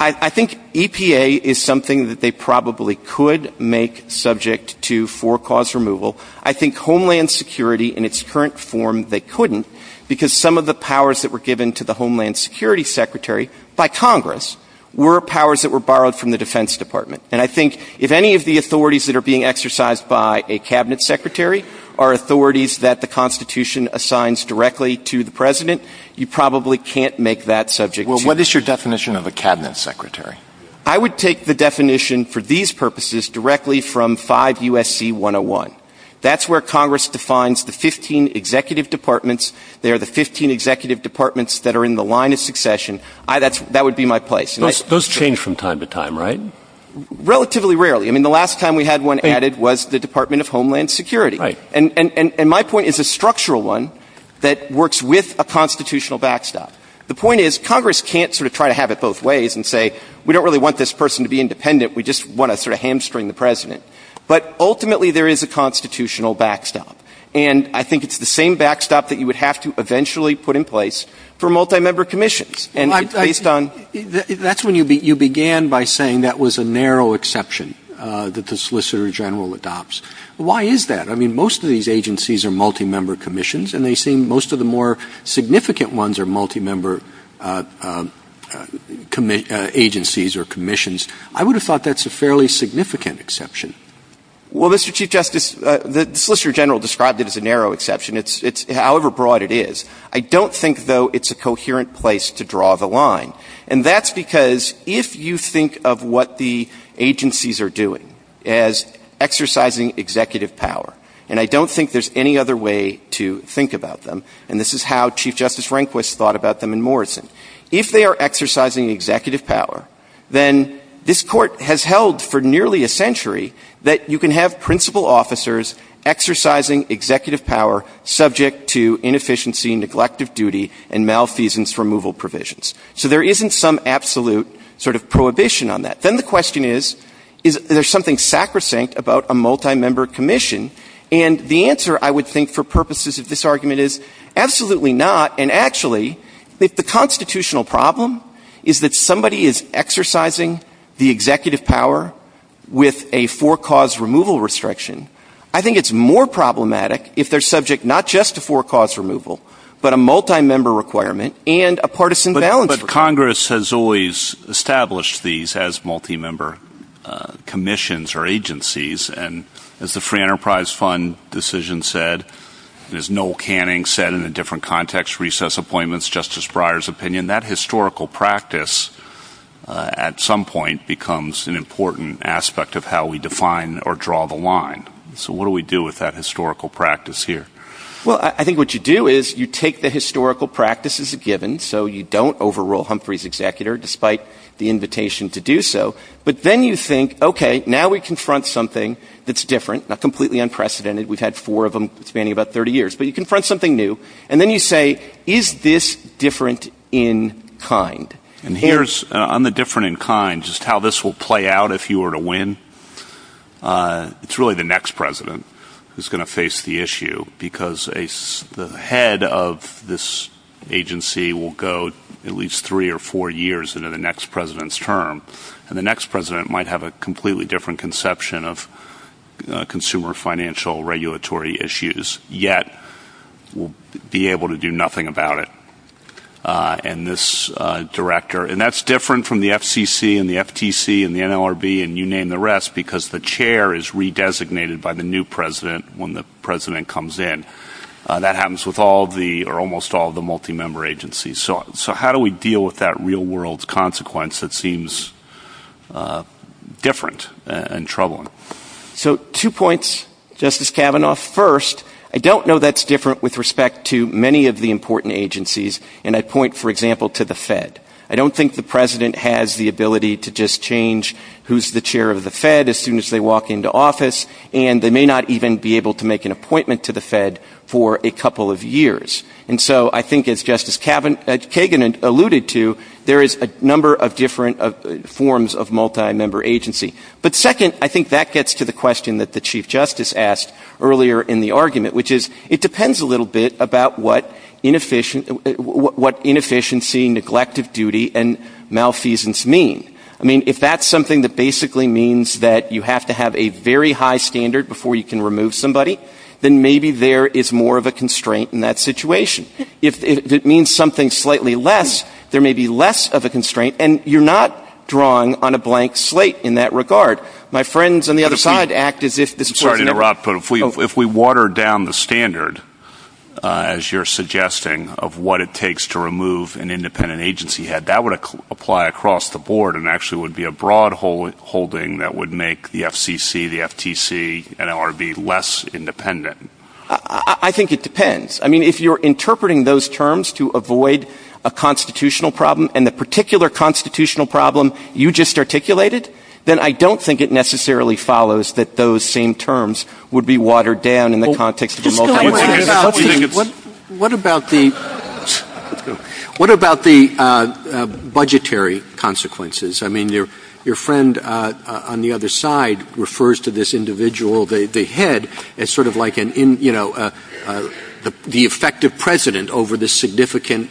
I think EPA is something that they probably could make subject to for cause removal. I think Homeland Security in its current form, they couldn't, because some of the powers that were given to the Homeland Security Secretary by Congress were powers that were borrowed from the Defense Department. And I think if any of the authorities that are being exercised by a Cabinet Secretary are authorities that the Constitution assigns directly to the president, you probably can't make that subject to— Well, what is your definition of a Cabinet Secretary? I would take the definition for these purposes directly from 5 U.S.C. 101. That's where Congress defines the 15 executive departments. They are the 15 executive departments that are in the line of succession. That would be my place. Those change from time to time, right? Relatively rarely. I mean, the last time we had one added was the Department of Homeland Security. And my point is a structural one that works with a constitutional backstop. The point is Congress can't sort of try to have it both ways and say, we don't really want this person to be independent, we just want to sort of hamstring the president. But ultimately there is a constitutional backstop. And I think it's the same backstop that you would have to eventually put in place for multi-member commissions. And that's when you began by saying that was a narrow exception that the Solicitor General adopts. Why is that? I mean, most of these agencies are multi-member commissions and they seem—most of the more significant ones are multi-member agencies or commissions. I would have thought that's a fairly significant exception. Well, Mr. Chief Justice, the Solicitor General described it as a narrow exception, however broad it is. I don't think, though, it's a coherent place to draw the line. And that's because if you think of what the agencies are doing as exercising executive power—and I don't think there's any other way to think about them, and this is how Chief Justice Rehnquist thought about them in Morrison—if they are exercising executive power, then this Court has held for nearly a century that you can have principal officers exercising executive power subject to inefficiency, neglect of duty, and malfeasance removal provisions. So there isn't some absolute sort of prohibition on that. Then the question is, is there something sacrosanct about a multi-member commission? And the answer, I would think, for purposes of this argument is absolutely not. And actually, if the constitutional problem is that somebody is exercising the executive power with a for-cause removal restriction, I think it's more problematic if they're subject not just to for-cause removal, but a multi-member requirement and a partisan balance. But Congress has always established these as multi-member commissions or agencies. And as the Free Enterprise Fund decision said, as Noel Canning said in a different context, recess appointments, Justice Breyer's opinion, that historical practice at some point becomes an important aspect of how we define or draw the line. So what do we do with that historical practice here? Well, I think what you do is you take the historical practice as a given, so you don't overrule Humphrey's executor, despite the invitation to do so. But then you think, okay, now we confront something that's different, not completely unprecedented—we've had four of them spanning about 30 years—but you confront something new. And then you say, is this different in kind? And here's—on the different in kind, just how this will play out if you were to win, it's really the next president who's going to face the issue, because the head of this agency will go at least three or four years into the next president's term. And the next president might have a completely different conception of consumer financial regulatory issues, yet will be able to do nothing about it. And this director—and that's different from the FCC and the FTC and the NLRB and you name the rest, because the chair is redesignated by the new president when the president comes in. That happens with all the, or almost all the, multi-member agencies. So how do we deal with that real-world consequence that seems different and troubling? So two points, Justice Kavanaugh. First, I don't know that's different with respect to many of the important agencies. And I point, for example, to the Fed. I don't think the president has the ability to just change who's the chair of the Fed as soon as they walk into office, and they may not even be able to make an appointment to the Fed for a couple of years. And so I think, as Justice Kagan alluded to, there is a number of different forms of multi-member agency. But second, I think that gets to the question that the Chief Justice asked earlier in the argument, which is, it depends a little bit about what inefficiency, neglect of duty, and malfeasance mean. I mean, if that's something that basically means that you have to have a very high standard before you can remove somebody, then maybe there is more of a constraint in that situation. If it means something slightly less, there may be less of a constraint. And you're not drawing on a blank slate in that regard. My friends on the other side act as if this were... I'm sorry to interrupt, but if we water down the standard, as you're suggesting, of what it takes to remove an independent agency head, that would apply across the board and actually would be a broad holding that would make the FCC, the FTC, NLRB less independent. I think it depends. I mean, if you're interpreting those terms to avoid a constitutional problem and the particular constitutional problem you just articulated, then I don't think it necessarily follows that those same terms would be watered down in the context of the multilateral... What about the budgetary consequences? I mean, your friend on the other side refers to this individual, the head, as sort of like the effective president over the significant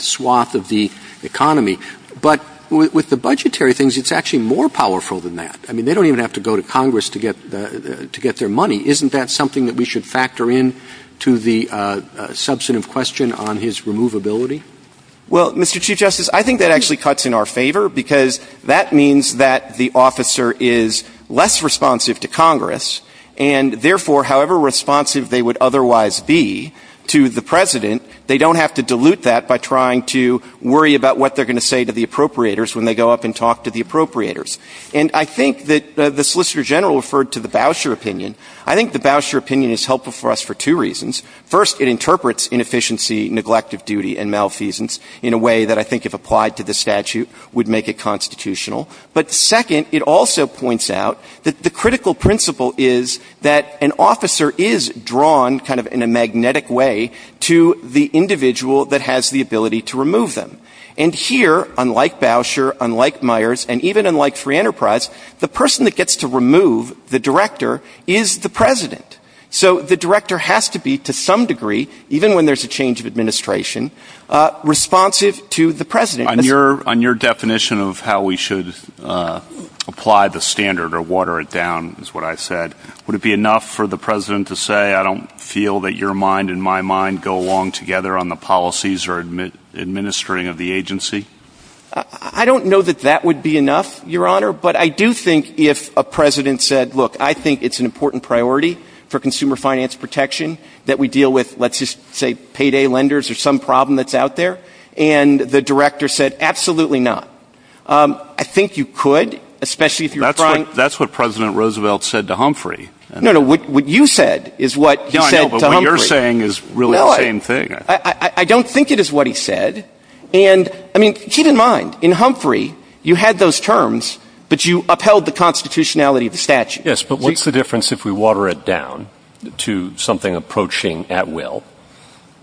swath of the economy. But with the budgetary things, it's actually more powerful than that. I mean, they don't even have to go to Congress to get their money. Isn't that something that we should factor in to the substantive question on his removability? Well, Mr. Chief Justice, I think that actually cuts in our favor because that means that the officer is less responsive to Congress, and therefore, however responsive they would otherwise be to the president, they don't have to dilute that by trying to worry about what they're going to say to the appropriators when they go up and talk to the appropriators. And I think that the Solicitor General referred to the Bousher opinion. I think the Bousher opinion is helpful for us for two reasons. First, it interprets inefficiency, neglect of duty, and malfeasance in a way that I think if applied to this statute would make it constitutional. But second, it also points out that the critical principle is that an officer is drawn kind of in a magnetic way to the individual that has the ability to remove them. And here, unlike Bousher, unlike Myers, and even unlike Free Enterprise, the person that gets to remove the director is the president. So the director has to be to some degree, even when there's a change of administration, responsive to the is what I said. Would it be enough for the president to say, I don't feel that your mind and my mind go along together on the policies or administering of the agency? I don't know that that would be enough, Your Honor. But I do think if a president said, look, I think it's an important priority for consumer finance protection that we deal with, let's just say, payday lenders or some problem that's out there. And the director said, absolutely not. I think you could, especially if you're right. That's what President Roosevelt said to Humphrey. No, no, what you said is what you're saying is really the same thing. I don't think it is what he said. And I mean, keep in mind, in Humphrey, you had those terms, but you upheld the constitutionality of the statute. Yes, but what's the difference if we water it down to something approaching at will?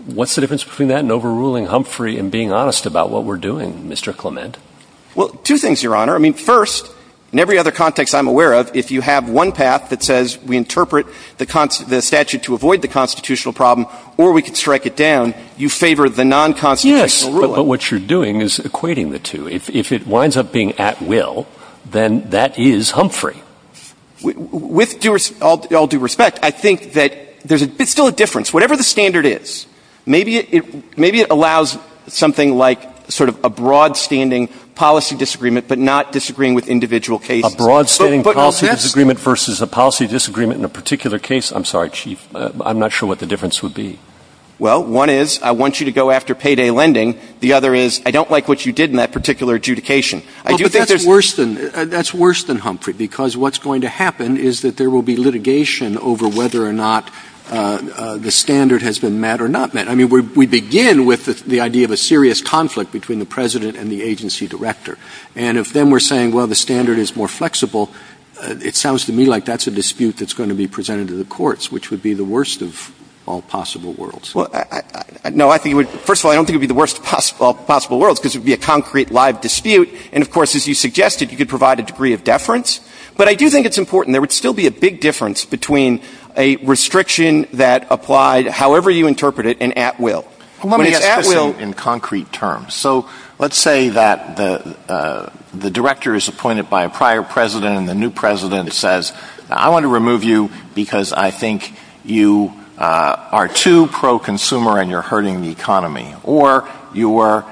What's the difference between that and overruling Humphrey and being honest about what we're doing, Mr. Clement? Well, two things, Your Honor. I mean, first, in every other context I'm aware of, if you have one path that says we interpret the statute to avoid the constitutional problem, or we could strike it down, you favor the non-constitutional ruling. Yes, but what you're doing is equating the two. If it winds up being at will, then that is Humphrey. With all due respect, I think that there's still a difference. Whatever the standard is, maybe it allows something like sort of a broad-standing policy disagreement, but not disagreeing with individual cases. A broad-standing policy disagreement versus a policy disagreement in a particular case. I'm sorry, Chief. I'm not sure what the difference would be. Well, one is, I want you to go after payday lending. The other is, I don't like what you did in that particular adjudication. Well, but that's worse than Humphrey, because what's going to happen is that there will be litigation over whether or not the standard has been met or not met. I mean, we begin with the idea of a serious conflict between the president and the agency director. And if then we're saying, well, the standard is more flexible, it sounds to me like that's a dispute that's going to be presented to the courts, which would be the worst of all possible worlds. No, first of all, I don't think it would be the worst of all possible worlds, because it would be a concrete, live dispute. And of course, as you suggested, you could provide a degree of deference. But I do think it's important. There would still be a big difference between a restriction that applied, however you interpret it, and at will. In concrete terms. So let's say that the director is appointed by a prior president and the new president says, I want to remove you because I think you are too pro-consumer and you're hurting the economy, or you're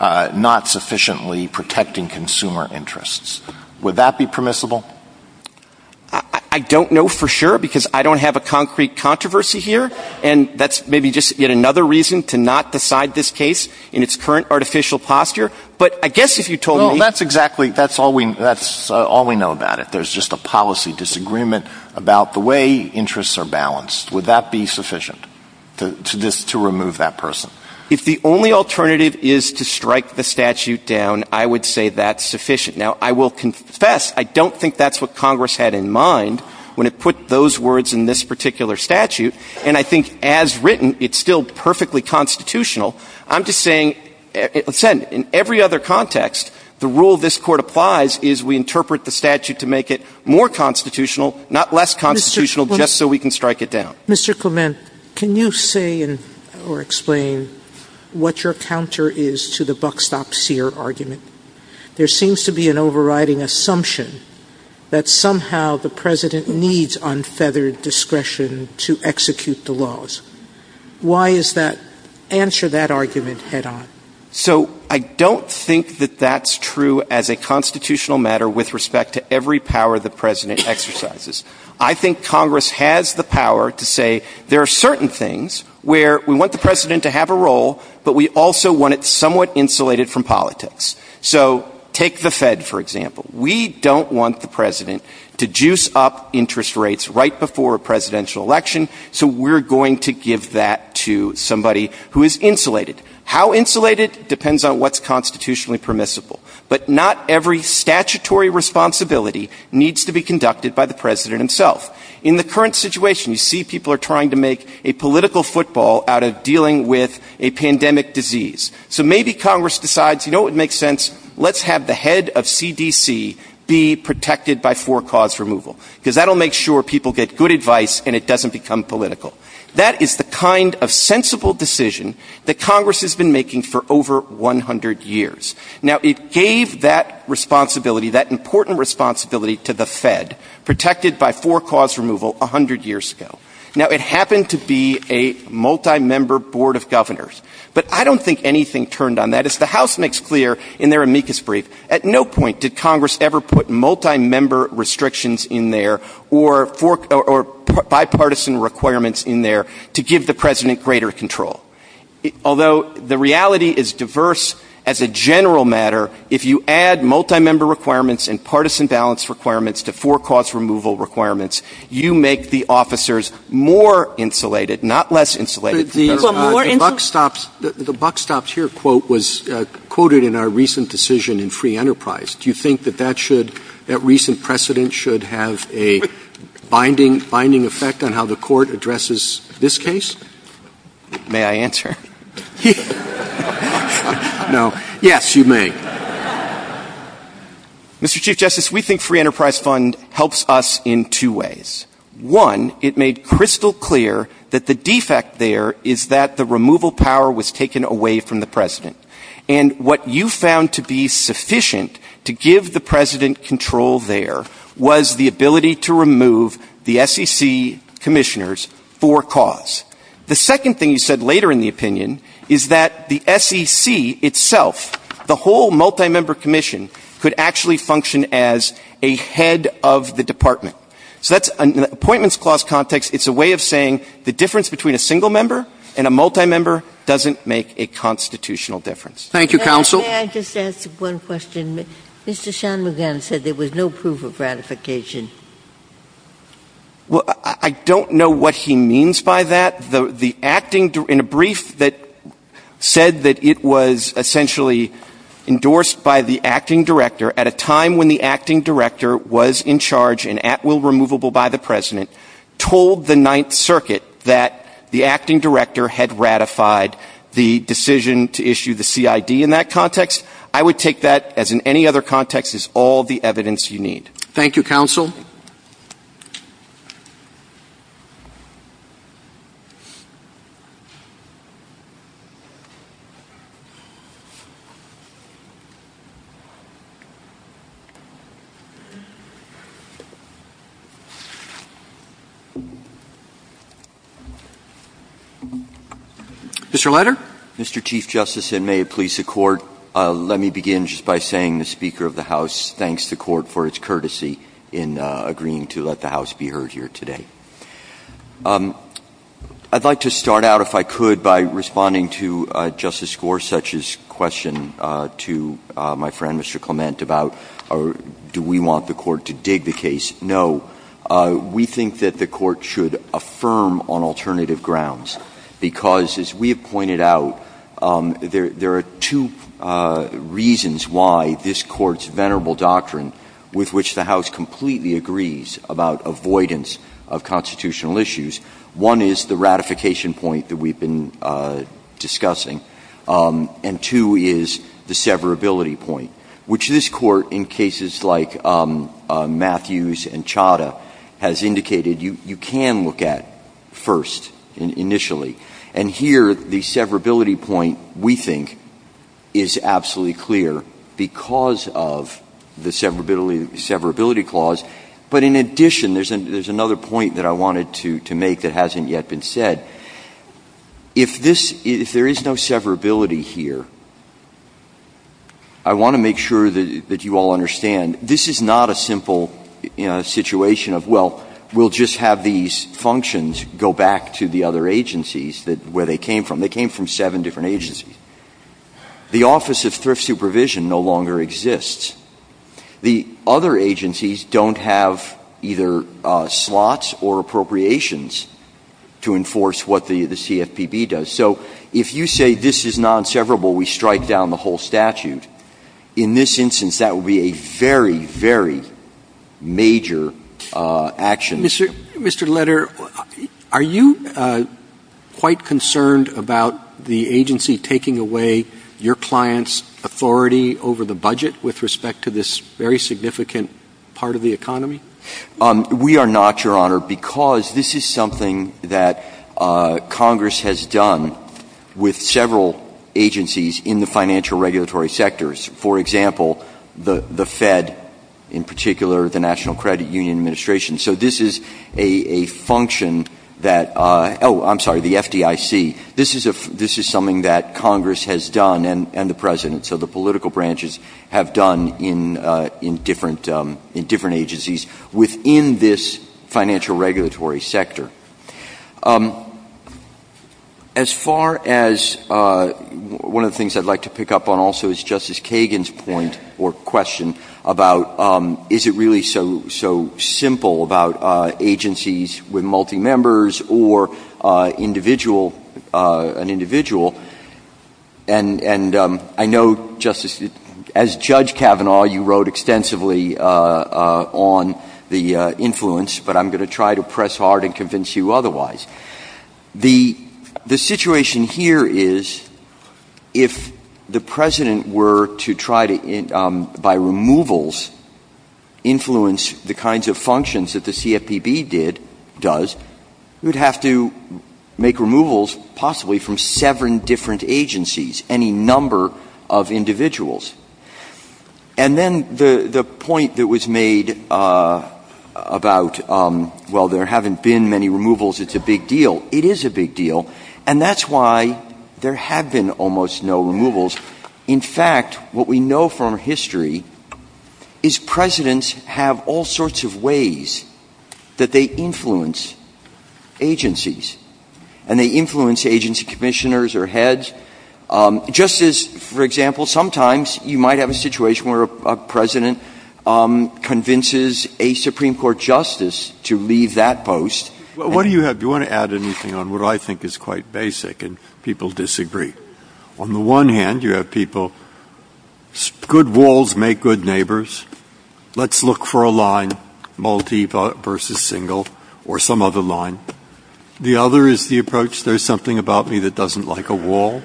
not sufficiently protecting consumer interests. Would that be permissible? I don't know for sure, because I don't have a concrete controversy here. And that's maybe just yet another reason to not decide this case in its current artificial posture. But I guess if you told me... No, that's exactly, that's all we know about it. There's just a policy disagreement about the way interests are balanced. Would that be sufficient to remove that person? If the only alternative is to strike the statute down, I would say that's sufficient. Now, I will confess, I don't think that's what Congress had in mind when it put those words in this particular statute. And I think as written, it's still perfectly constitutional. I'm just saying, in every other context, the rule this court applies is we interpret the statute to make it more constitutional, not less constitutional, just so we can strike it down. Mr. Clement, can you say or explain what your counter is to the buckstop seer argument? There seems to be an overriding assumption that somehow the president needs unfeathered discretion to execute the laws. Why is that? Answer that argument head on. So I don't think that that's true as a constitutional matter with respect to every power the president exercises. I think Congress has the power to say, there are certain things where we want the president to have a role, but we also want it somewhat insulated from politics. So take the Fed, for example. We don't want the president to juice up interest rates right before a presidential election, so we're going to give that to somebody who is insulated. How insulated depends on what's constitutionally permissible. But not every statutory responsibility needs to be conducted by the president himself. In the current situation, you see people are trying to make a political football out of dealing with a pandemic disease. So maybe Congress decides, you know what makes sense? Let's have the head of CDC be protected by four cause removal, because that'll make sure people get good advice and it doesn't become political. That is the kind of sensible decision that Congress has been making for over 100 years. Now, it gave that responsibility, that important responsibility to the Fed, protected by four cause removal 100 years ago. Now, it happened to be a multi-member board of governors, but I don't think anything turned on that. As the House makes clear in their amicus brief, at no point did Congress ever put multi-member restrictions in there or bipartisan requirements in there to give the president greater control. Although the reality is diverse as a general matter, if you add multi-member requirements and partisan balance requirements to four cause removal requirements, you make the officers more insulated, not less insulated. The buck stops here quote was quoted in our recent decision in free enterprise. Do you think that that should, that recent precedent should have a binding effect on how the court addresses this case? May I answer? No. Yes, you may. Mr. Chief Justice, we think free enterprise fund helps us in two ways. One, it made crystal clear that the defect there is that the removal power was taken away from the president. And what you found to be sufficient to give the president control there was the ability to remove the SEC commissioners for cause. The second thing you said later in the opinion is that the SEC itself, the whole multi-member commission could actually function as a head of the department. So that's an appointments clause context. It's a way of saying the difference between a single member and a multi-member doesn't make a constitutional difference. Thank you, counsel. May I just ask one question? Mr. Shanmugam said there was no proof of ratification. Well, I don't know what he means by that. The acting in a brief that said that it was essentially endorsed by the acting director at a time when the acting director was in charge and at will removable by the president told the ninth circuit that the acting director had ratified the decision to issue the CID in that context. I would take that as in any other context is all evidence you need. Thank you, counsel. Mr. Letter, Mr. Chief Justice, and may it please the court, let me begin just by saying the Speaker of the House thanks the court for its courtesy in agreeing to let the House be heard here today. I'd like to start out, if I could, by responding to Justice Gorsuch's question to my friend, Mr. Clement, about do we want the court to dig the case? No. We think that the court should affirm on alternative grounds because, as we have pointed out, there are two reasons why this court's venerable doctrine, with which the House completely agrees about avoidance of constitutional issues, one is the ratification point that we've been discussing, and two is the severability point, which this court, in cases like Matthews and Chadha, has indicated you can look at first, initially. And here, the severability point, we think, is absolutely clear because of the severability clause. But in addition, there's another point that I wanted to make that hasn't yet been said. If there is no severability here, I want to make sure that you all understand this is not a simple situation of, well, we'll just have these functions go back to the other agencies where they came from. They came from seven different agencies. The Office of Thrift Supervision no longer exists. The other agencies don't have either slots or appropriations to enforce what the CFPB does. So if you say this is non-severable, we strike down the whole statute. In this instance, that would be a very, very major action. Mr. Leder, are you quite concerned about the agency taking away your clients' authority over the budget with respect to this very significant part of the economy? We are not, Your Honor, because this is something that Congress has done with several agencies in the financial regulatory sectors. For example, the Fed, in particular, the National Credit Union Administration. So this is a function that, oh, I'm sorry, the FDIC. This is something that Congress has done and the presidents of the political branches have done in different agencies within this financial regulatory sector. As far as one of the things I'd like to pick up on also is Justice Kagan's point or question about is it really so simple about agencies with multi-members or an individual. And I know, Justice, as Judge Kavanaugh, you wrote extensively on the influence, but I'm going to try to press hard and convince you otherwise. The situation here is if the president were to try to, by removals, influence the kinds of functions that the CFPB does, you'd have to make removals possibly from seven different agencies, any number of individuals. And then the point that was made about, well, there haven't been many removals. It's a big deal. It is a big deal. And that's why there have been almost no removals. In fact, what we know from history is presidents have all sorts of ways that they influence agencies and they influence agency commissioners or heads. Just as, for example, sometimes you might have a situation where a president convinces a Supreme Court justice to leave that post. What do you have? Do you want to add anything on what I think is quite basic and people disagree? On the one hand, you have people, good walls make good neighbors. Let's look for a line, Maldiva versus single or some other line. The other is the approach. There's something about me that doesn't like a wall.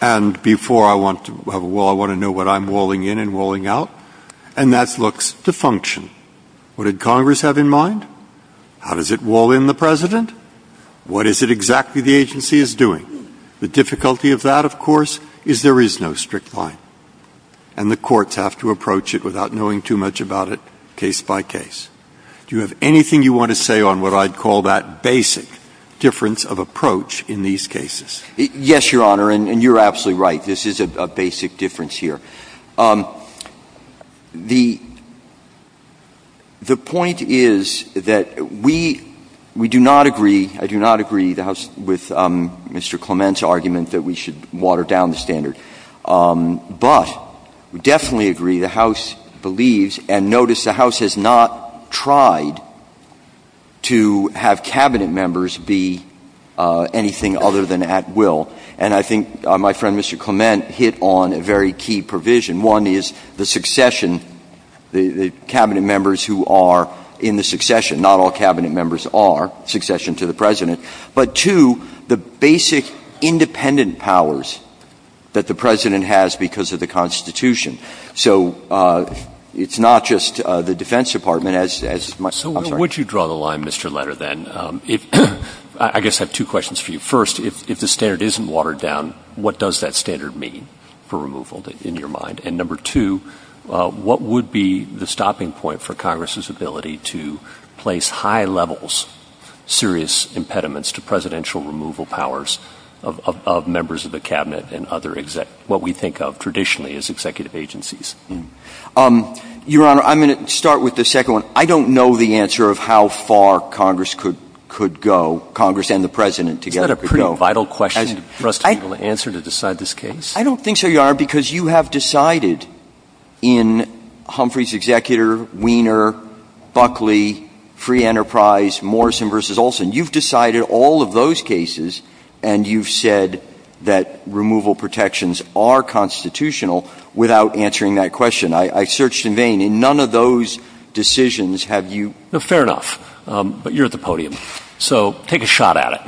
And before I want to have a wall, I want to know what I'm walling in and walling out. And that looks to function. What did Congress have in mind? How does it wall in the president? What is it exactly the agency is doing? The difficulty of that, of course, is there is no strict line and the courts have to approach it without knowing too much about it, by case. Do you have anything you want to say on what I'd call that basic difference of approach in these cases? Yes, Your Honor. And you're absolutely right. This is a basic difference here. The point is that we do not agree. I do not agree with Mr. Clement's argument that we should tried to have cabinet members be anything other than at will. And I think my friend, Mr. Clement hit on a very key provision. One is the succession, the cabinet members who are in the succession, not all cabinet members are succession to the president, but two, the basic independent powers that the president has because of the constitution. So it's not just the defense department as much. So would you draw the line, Mr. Letter, then? I guess I have two questions for you. First, if the standard isn't watered down, what does that standard mean for removal in your mind? And number two, what would be the stopping point for Congress's ability to place high levels, serious impediments to presidential removal powers of members of cabinet and what we think of traditionally as executive agencies? Your Honor, I'm going to start with the second one. I don't know the answer of how far Congress could go, Congress and the president together. That's a pretty vital question for us to be able to answer to decide this case. I don't think so, Your Honor, because you have decided in Humphrey's executor, Wiener, Buckley, Free Enterprise, Morrison versus Olson. You've decided all of those cases and you've said that removal protections are constitutional without answering that question. I searched in vain. In none of those decisions have you... No, fair enough. But you're at the podium. So take a shot at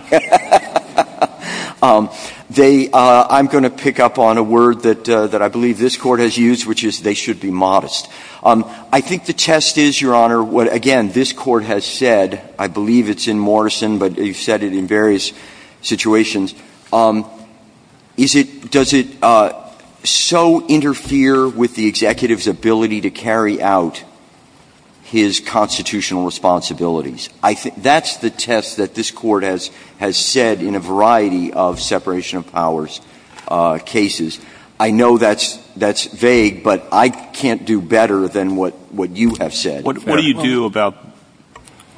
it. I'm going to pick up on a word that I believe this court has used, which is they should be modest. I think the test is, Your Honor, what again, this court has said, I believe it's in Morrison, but you've said it in various situations. Does it so interfere with the executive's ability to carry out his constitutional responsibilities? That's the test that this court has said in a than what you have said. What do you do about...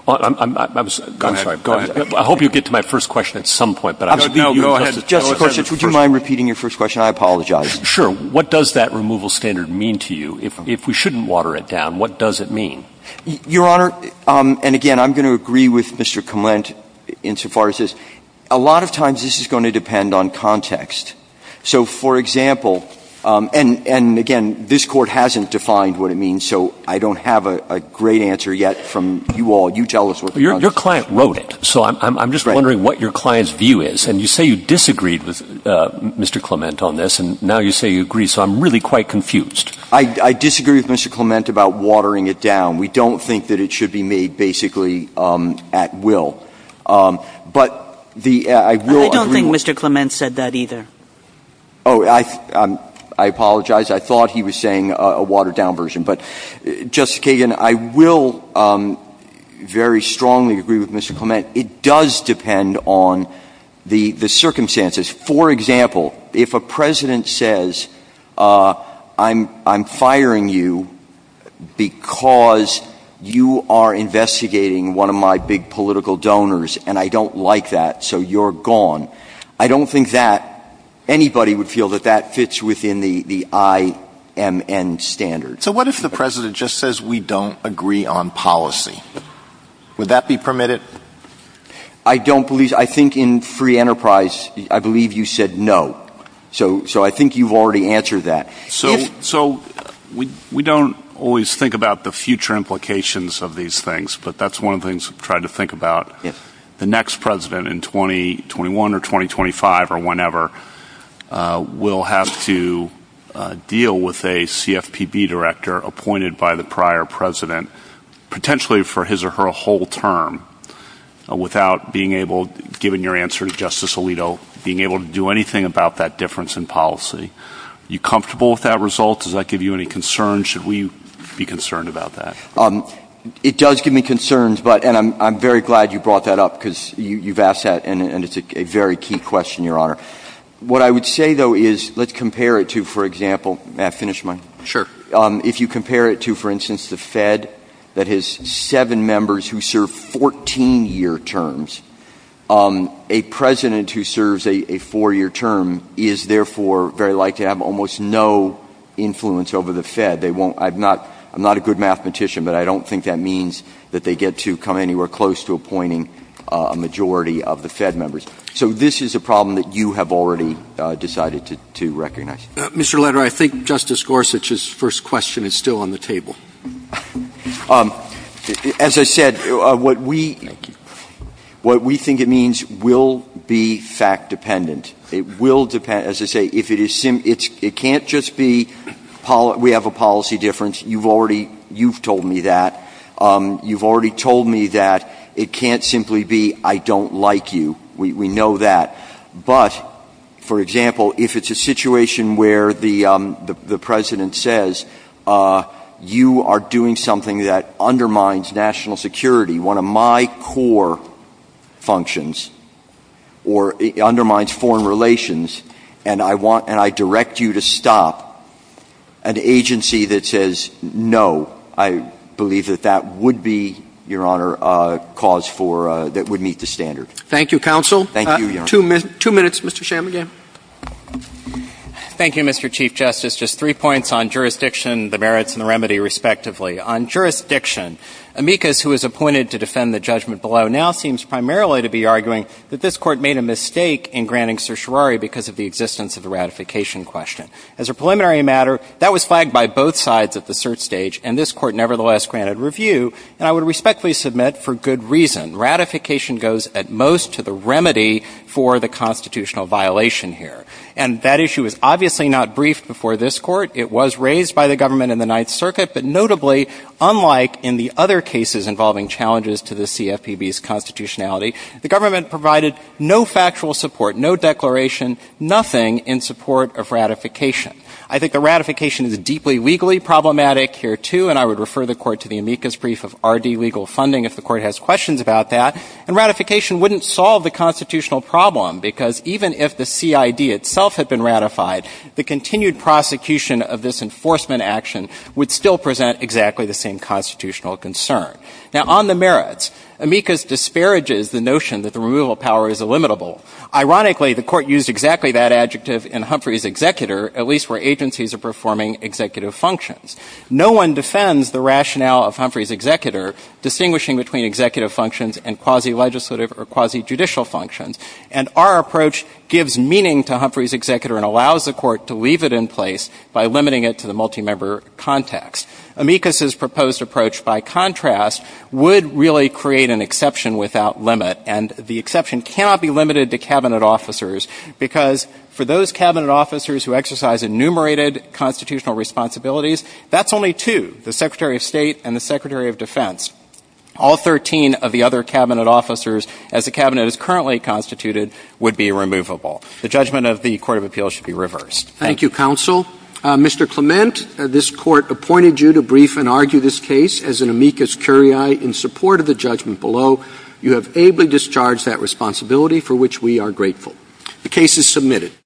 I'm sorry, go ahead. I hope you'll get to my first question at some point, but I'll go ahead. Justice Gorsuch, would you mind repeating your first question? I apologize. Sure. What does that removal standard mean to you? If we shouldn't water it down, what does it mean? Your Honor, and again, I'm going to agree with Mr. Clement insofar as this, a lot of times this is going to depend on context. So for example, and again, this court hasn't defined what it means. So I don't have a great answer yet from you all. You tell us what... Your client wrote it. So I'm just wondering what your client's view is. And you say you disagreed with Mr. Clement on this, and now you say you agree. So I'm really quite confused. I disagree with Mr. Clement about watering it down. We don't think that it should be made basically at will. But the... I don't think Mr. Clement said that either. Oh, I apologize. I thought he was saying a watered down version, but Justice Kagan, I will very strongly agree with Mr. Clement. It does depend on the circumstances. For example, if a president says, I'm firing you because you are investigating one of my big anybody would feel that that fits within the I M N standard. So what if the president just says we don't agree on policy? Would that be permitted? I don't believe... I think in free enterprise, I believe you said no. So I think you've already answered that. So we don't always think about the future implications of these things, but that's one of the things I've tried to think about. The next president in 2021 or 2025 or whenever will have to deal with a CFPB director appointed by the prior president, potentially for his or her whole term without being able, given your answer to Justice Alito, being able to do anything about that difference in policy. You comfortable with that result? Does that give you any concern? Should we be concerned about that? It does give me concerns, but, and I'm very glad you brought that up because you've asked that and it's a very key question, Your Honor. What I would say though is let's compare it to, for example, may I finish mine? Sure. If you compare it to, for instance, the Fed that has seven members who serve 14 year terms, a president who serves a four year term is therefore very likely to have almost no influence over the Fed. I'm not a good mathematician, but I don't think that means that they get to come anywhere close to appointing a majority of the Fed members. So this is a problem that you have already decided to recognize. Mr. Lederer, I think Justice Gorsuch's first question is still on the table. As I said, what we think it means will be fact dependent. It will depend, as I say, if it is, it can't just be, we have a policy difference. You've already, you've told me that. You've already told me that it can't simply be, I don't like you. We know that. But for example, if it's a situation where the president says you are doing something that undermines national security, one of my core functions, or undermines foreign relations, and I want, and I direct you to stop, an agency that says no, I believe that that would be, Your Honor, a cause for, that would meet the standard. Thank you, counsel. Thank you, Your Honor. Two minutes, Mr. Chamberlain. Thank you, Mr. Chief Justice. Just three points on jurisdiction, the merits, and the remedy, respectively. On jurisdiction, amicus who is appointed to defend the judgment below now seems primarily to be arguing that this court made a mistake in granting certiorari because of the existence of the ratification question. As a preliminary matter, that was flagged by both sides at the cert stage, and this court nevertheless granted review, and I would respectfully submit for good reason, ratification goes at most to the remedy for the constitutional violation here. And that issue was obviously not briefed before this court. It was raised by the government in the Ninth Circuit, but notably, unlike in the other cases involving challenges to the CFPB's constitutionality, the government provided no factual support, no declaration, nothing in support of ratification. I think the ratification is deeply legally problematic here, too, and I would refer the court to the amicus brief of RD legal funding if the court has questions about that, and ratification wouldn't solve the constitutional problem because even if the CID itself had been ratified, the continued prosecution of this enforcement action would still present exactly the same constitutional concern. Now on the merits, amicus disparages the notion that the removal of power is illimitable. Ironically, the court used exactly that adjective in Humphrey's executor, at least where agencies are performing executive functions. No one defends the rationale of Humphrey's executor distinguishing between executive functions and quasi-legislative or quasi-judicial functions, and our approach gives meaning to Humphrey's executor and allows the court to leave it in place by limiting it to the multi-member context. Amicus's proposed approach, by contrast, would really create an exception without limit, and the exception cannot be limited to cabinet officers because for those cabinet officers who exercise enumerated constitutional responsibilities, that's only two, the Secretary of State and the Secretary of Defense. All 13 of the other cabinet officers, as the cabinet is currently constituted, would be removable. The judgment of the Court of Appeals should be reversed. Thank you, counsel. Mr. Clement, this court appointed you to brief and argue this case as an amicus curiae in support of the judgment below. You have ably discharged that responsibility, for which we are grateful. The case is submitted.